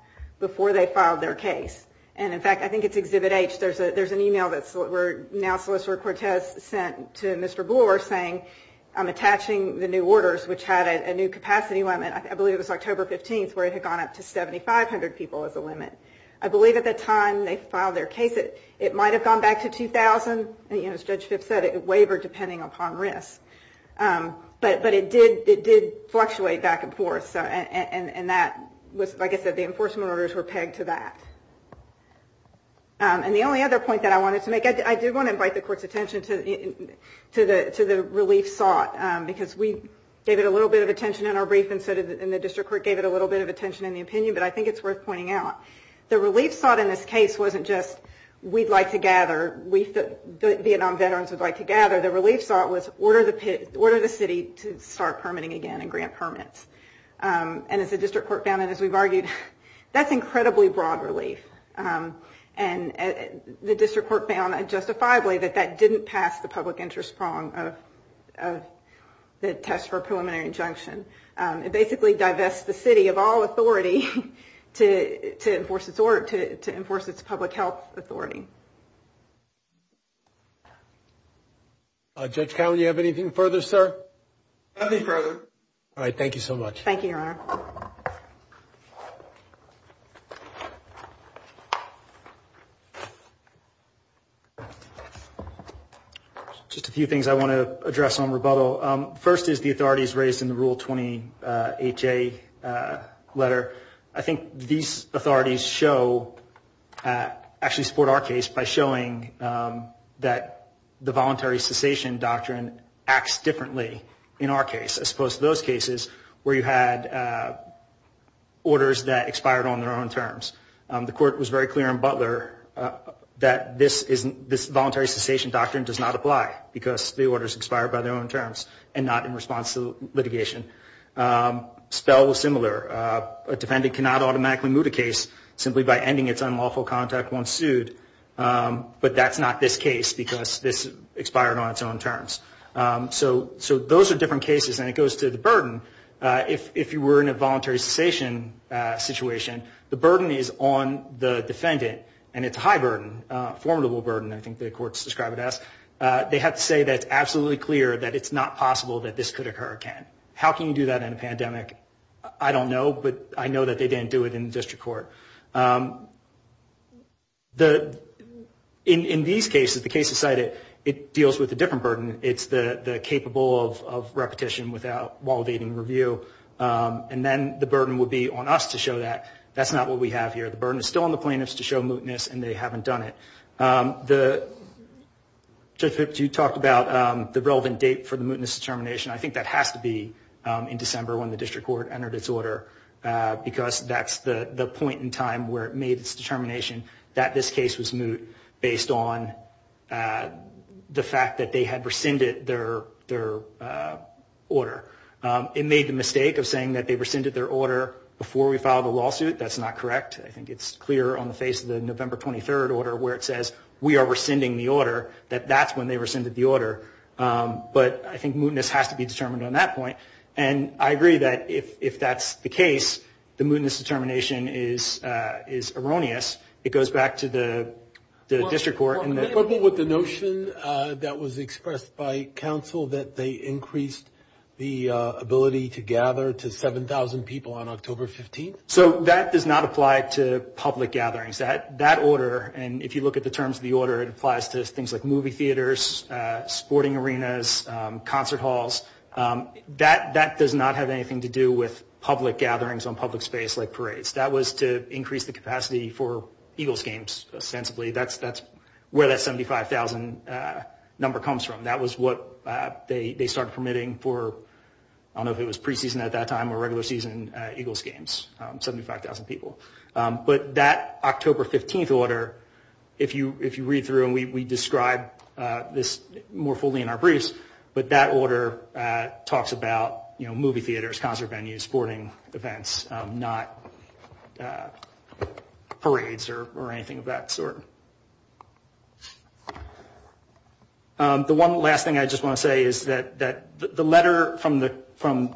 before they filed their case. And in fact, I think it's Exhibit H. There's an email that now Solicitor Cortez sent to Mr. Bloor saying, I'm attaching the new orders, which had a new capacity limit. I believe it was October 15th, where it had gone up to 7,500 people as a limit. I believe at the time they filed their case, it might have gone back to 2,000, and as Judge Fitts said, it wavered depending upon risk. But it did fluctuate back and forth, and that was, like I said, the enforcement orders were pegged to that. And the only other point that I wanted to make, I did want to invite the Court's attention to the relief sought, because we gave it a little bit of attention in our brief, and the District Court gave it a little bit of attention in the opinion, but I think it's worth pointing out. The relief sought in this case wasn't just, we'd like to gather, the Vietnam veterans would like to gather. The relief sought was, order the city to start permitting again and grant permits. And as the District Court found, as we've argued, that's incredibly broad relief. And the District Court found in a justifiable way that that didn't pass the public interest prong of the test for a preliminary injunction. It basically divested the city of all authority to enforce its public health authority. Judge Howell, do you have anything further, sir? Nothing further. All right, thank you so much. Thank you, Your Honor. Just a few things I want to address on rebuttal. First is the authorities raised in the Rule 20HA letter. I think these authorities actually support our case by showing that the voluntary cessation doctrine acts differently in our case, as opposed to those cases where you had orders that expired on their own terms. The court was very clear in Butler that this voluntary cessation doctrine does not apply, because the orders expired by their own terms and not in response to litigation. Spell was similar. A defendant cannot automatically move a case simply by ending its unlawful contact once sued, but that's not this case because it's expired on its own terms. So those are different cases. And it goes to the burden. If you were in a voluntary cessation situation, the burden is on the defendant, and it's a high burden, a formidable burden, I think the courts describe it as. They have to say that it's absolutely clear that it's not possible that this could occur again. How can you do that in a pandemic? I don't know, but I know that they didn't do it in district court. In these cases, the case decided, it deals with a different burden. It's the capable of repetition without validating review. And then the burden would be on us to show that that's not what we have here. The burden is still on the plaintiffs to show mootness, and they haven't done it. You talked about the relevant date for the mootness determination. I think that has to be in December when the district court entered its order, because that's the point in time where it made its determination that this case was moot, based on the fact that they had rescinded their order. It made the mistake of saying that they rescinded their order before we filed the lawsuit. That's not correct. I think it's clear on the face of the November 23rd order where it says we are rescinding the order, that that's when they rescinded the order. But I think mootness has to be determined on that point. And I agree that if that's the case, the mootness determination is erroneous. It goes back to the district court. So that does not apply to public gatherings. That order, and if you look at the terms of the order, it applies to things like movie theaters, sporting arenas, concert halls. That does not have anything to do with public gatherings on public space like parades. That was to increase the capacity for Eagles games, ostensibly. That's where that 75,000 number comes from. That was what they started permitting for, I don't know if it was preseason at that time or regular season, Eagles games, 75,000 people. But that October 15th order, if you read through and we describe this more fully in our briefs, but that order talks about movie theaters, concert venues, sporting events, not parades or anything of that sort. The one last thing I just want to say is that the letter from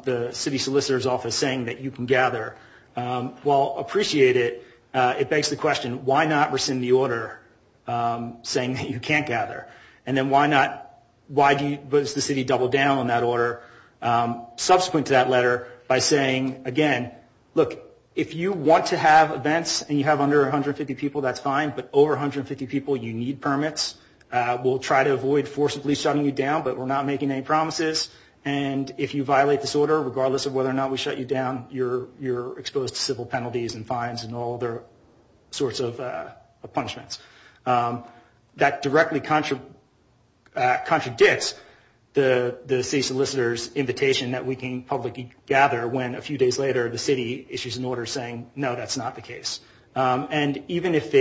the city solicitor's office was saying that you can gather. Well, appreciate it. It begs the question, why not rescind the order saying that you can't gather? And then why does the city double down on that order subsequent to that letter by saying, again, look, if you want to have events and you have under 150 people, that's fine, but over 150 people, you need permits. We'll try to avoid forcibly shutting you down, but we're not making any promises. And if you violate this order, regardless of whether or not we shut you down, you're exposed to civil penalties and fines and all other sorts of punishments. That directly contradicts the city solicitor's invitation that we can publicly gather when a few days later the city issues an order saying, no, that's not the case. And even if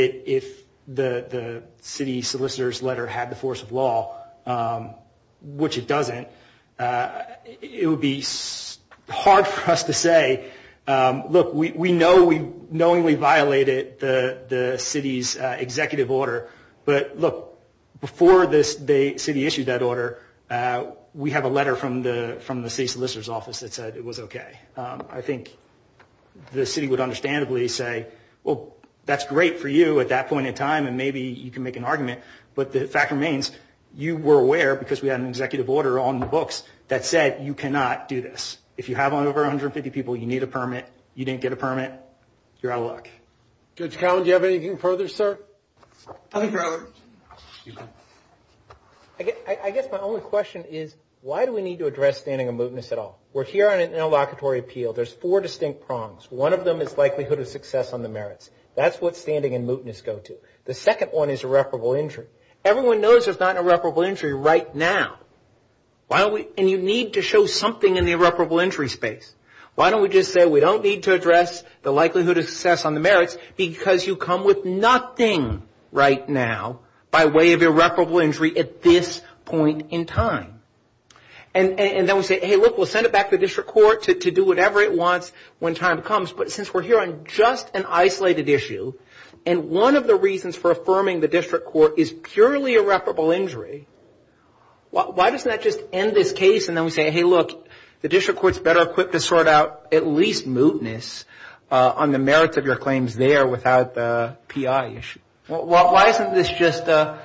the city solicitor's letter had the force of law, which it doesn't, it would be hard for us to say, look, we know we knowingly violated the city's executive order, but look, before the city issued that order, we have a letter from the city solicitor's office that said it was okay. I think the city would understandably say, well, that's great for you at that point in time and maybe you can make an argument, but the fact remains, you were aware, because we had an executive order on the books, that said you cannot do this. If you have over 150 people, you need a permit, you didn't get a permit, you're out of luck. Mr. Collins, do you have anything further, sir? Nothing further. I guess my only question is, why do we need to address banning of movements at all? We're here on an interlocutory appeal. There's four distinct prongs. One of them is likelihood of success on the merits. That's what standing and mootness go to. The second one is irreparable injury. Everyone knows there's not an irreparable injury right now, and you need to show something in the irreparable injury space. Why don't we just say we don't need to address the likelihood of success on the merits, because you come with nothing right now by way of irreparable injury at this point in time. And then we say, hey, look, we'll send it back to the district court to do whatever it wants when the time comes, but since we're here on just an isolated issue, and one of the reasons for affirming the district court is purely irreparable injury, why doesn't that just end this case, and then we say, hey, look, the district court's better equipped to sort out at least mootness on the merits of your claims there without the PI issue. Why isn't this just it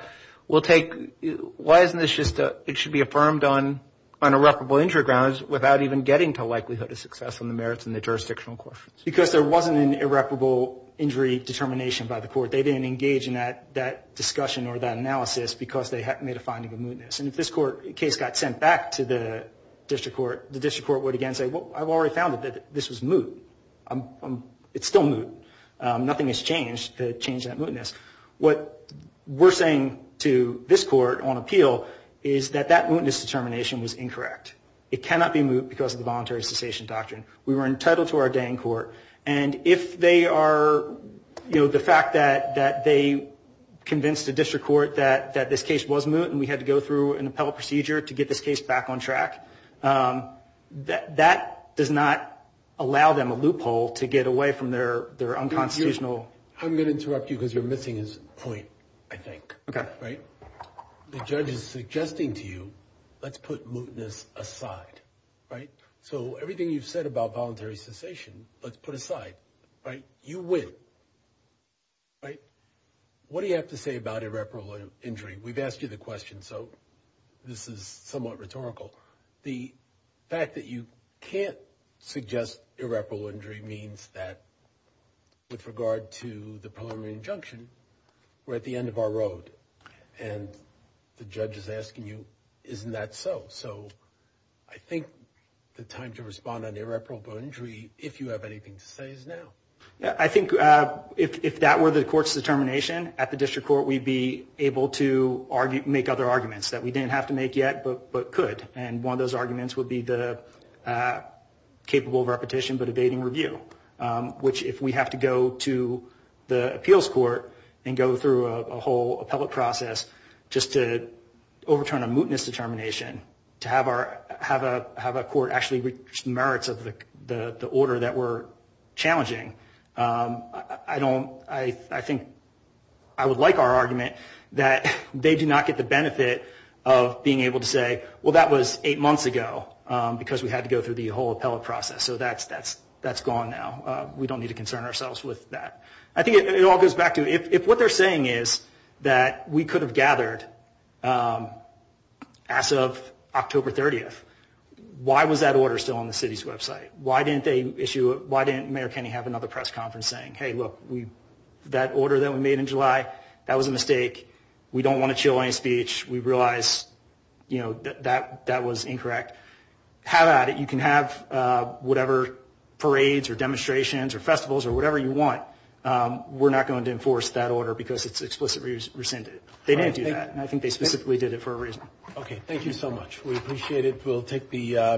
should be affirmed on irreparable injury grounds without even getting to likelihood of success on the merits and the jurisdictional questions? Because there wasn't an irreparable injury determination by the court. They didn't engage in that discussion or that analysis because they had made a finding of mootness. And if this case got sent back to the district court, the district court would again say, well, I've already found that this was moot. It's still moot. Nothing has changed to change that mootness. What we're saying to this court on appeal is that that mootness determination was incorrect. It cannot be moot because of the voluntary cessation doctrine. We were entitled to our day in court, and if they are, you know, the fact that they convinced the district court that this case was moot and we had to go through an appellate procedure to get this case back on track, that does not allow them a loophole to get away from their unconstitutional. I'm going to interrupt you because you're missing a point, I think. Okay. The judge is suggesting to you let's put mootness aside. So everything you've said about voluntary cessation, let's put aside. You win. What do you have to say about irreparable injury? We've asked you the question, so this is somewhat rhetorical. The fact that you can't suggest irreparable injury means that with regard to the preliminary injunction, we're at the end of our road, and the judge is asking you, isn't that so? So I think the time to respond on irreparable injury, if you have anything to say, is now. I think if that were the court's determination, at the district court we'd be able to make other arguments that we didn't have to make yet but could, and one of those arguments would be the capable repetition but abating review, which if we have to go to the appeals court and go through a whole appellate process just to overturn a mootness determination, to have a court actually reach the merits of the order that we're challenging, I think I would like our argument that they do not get the benefit of being able to say, well, that was eight months ago because we had to go through the whole appellate process, so that's gone now. We don't need to concern ourselves with that. I think it all goes back to if what they're saying is that we could have gathered as of October 30th, why was that order still on the city's website? Why didn't they issue it? Why didn't Mayor Kenney have another press conference saying, hey, look, that order that we made in July, that was a mistake. We don't want to chill any speech. We realize, you know, that that was incorrect. Have at it. You can have whatever parades or demonstrations or festivals or whatever you want. We're not going to enforce that order because it's explicitly rescinded. They didn't do that, and I think they specifically did it for a reason. Okay. Thank you so much. We appreciate it. Thank you.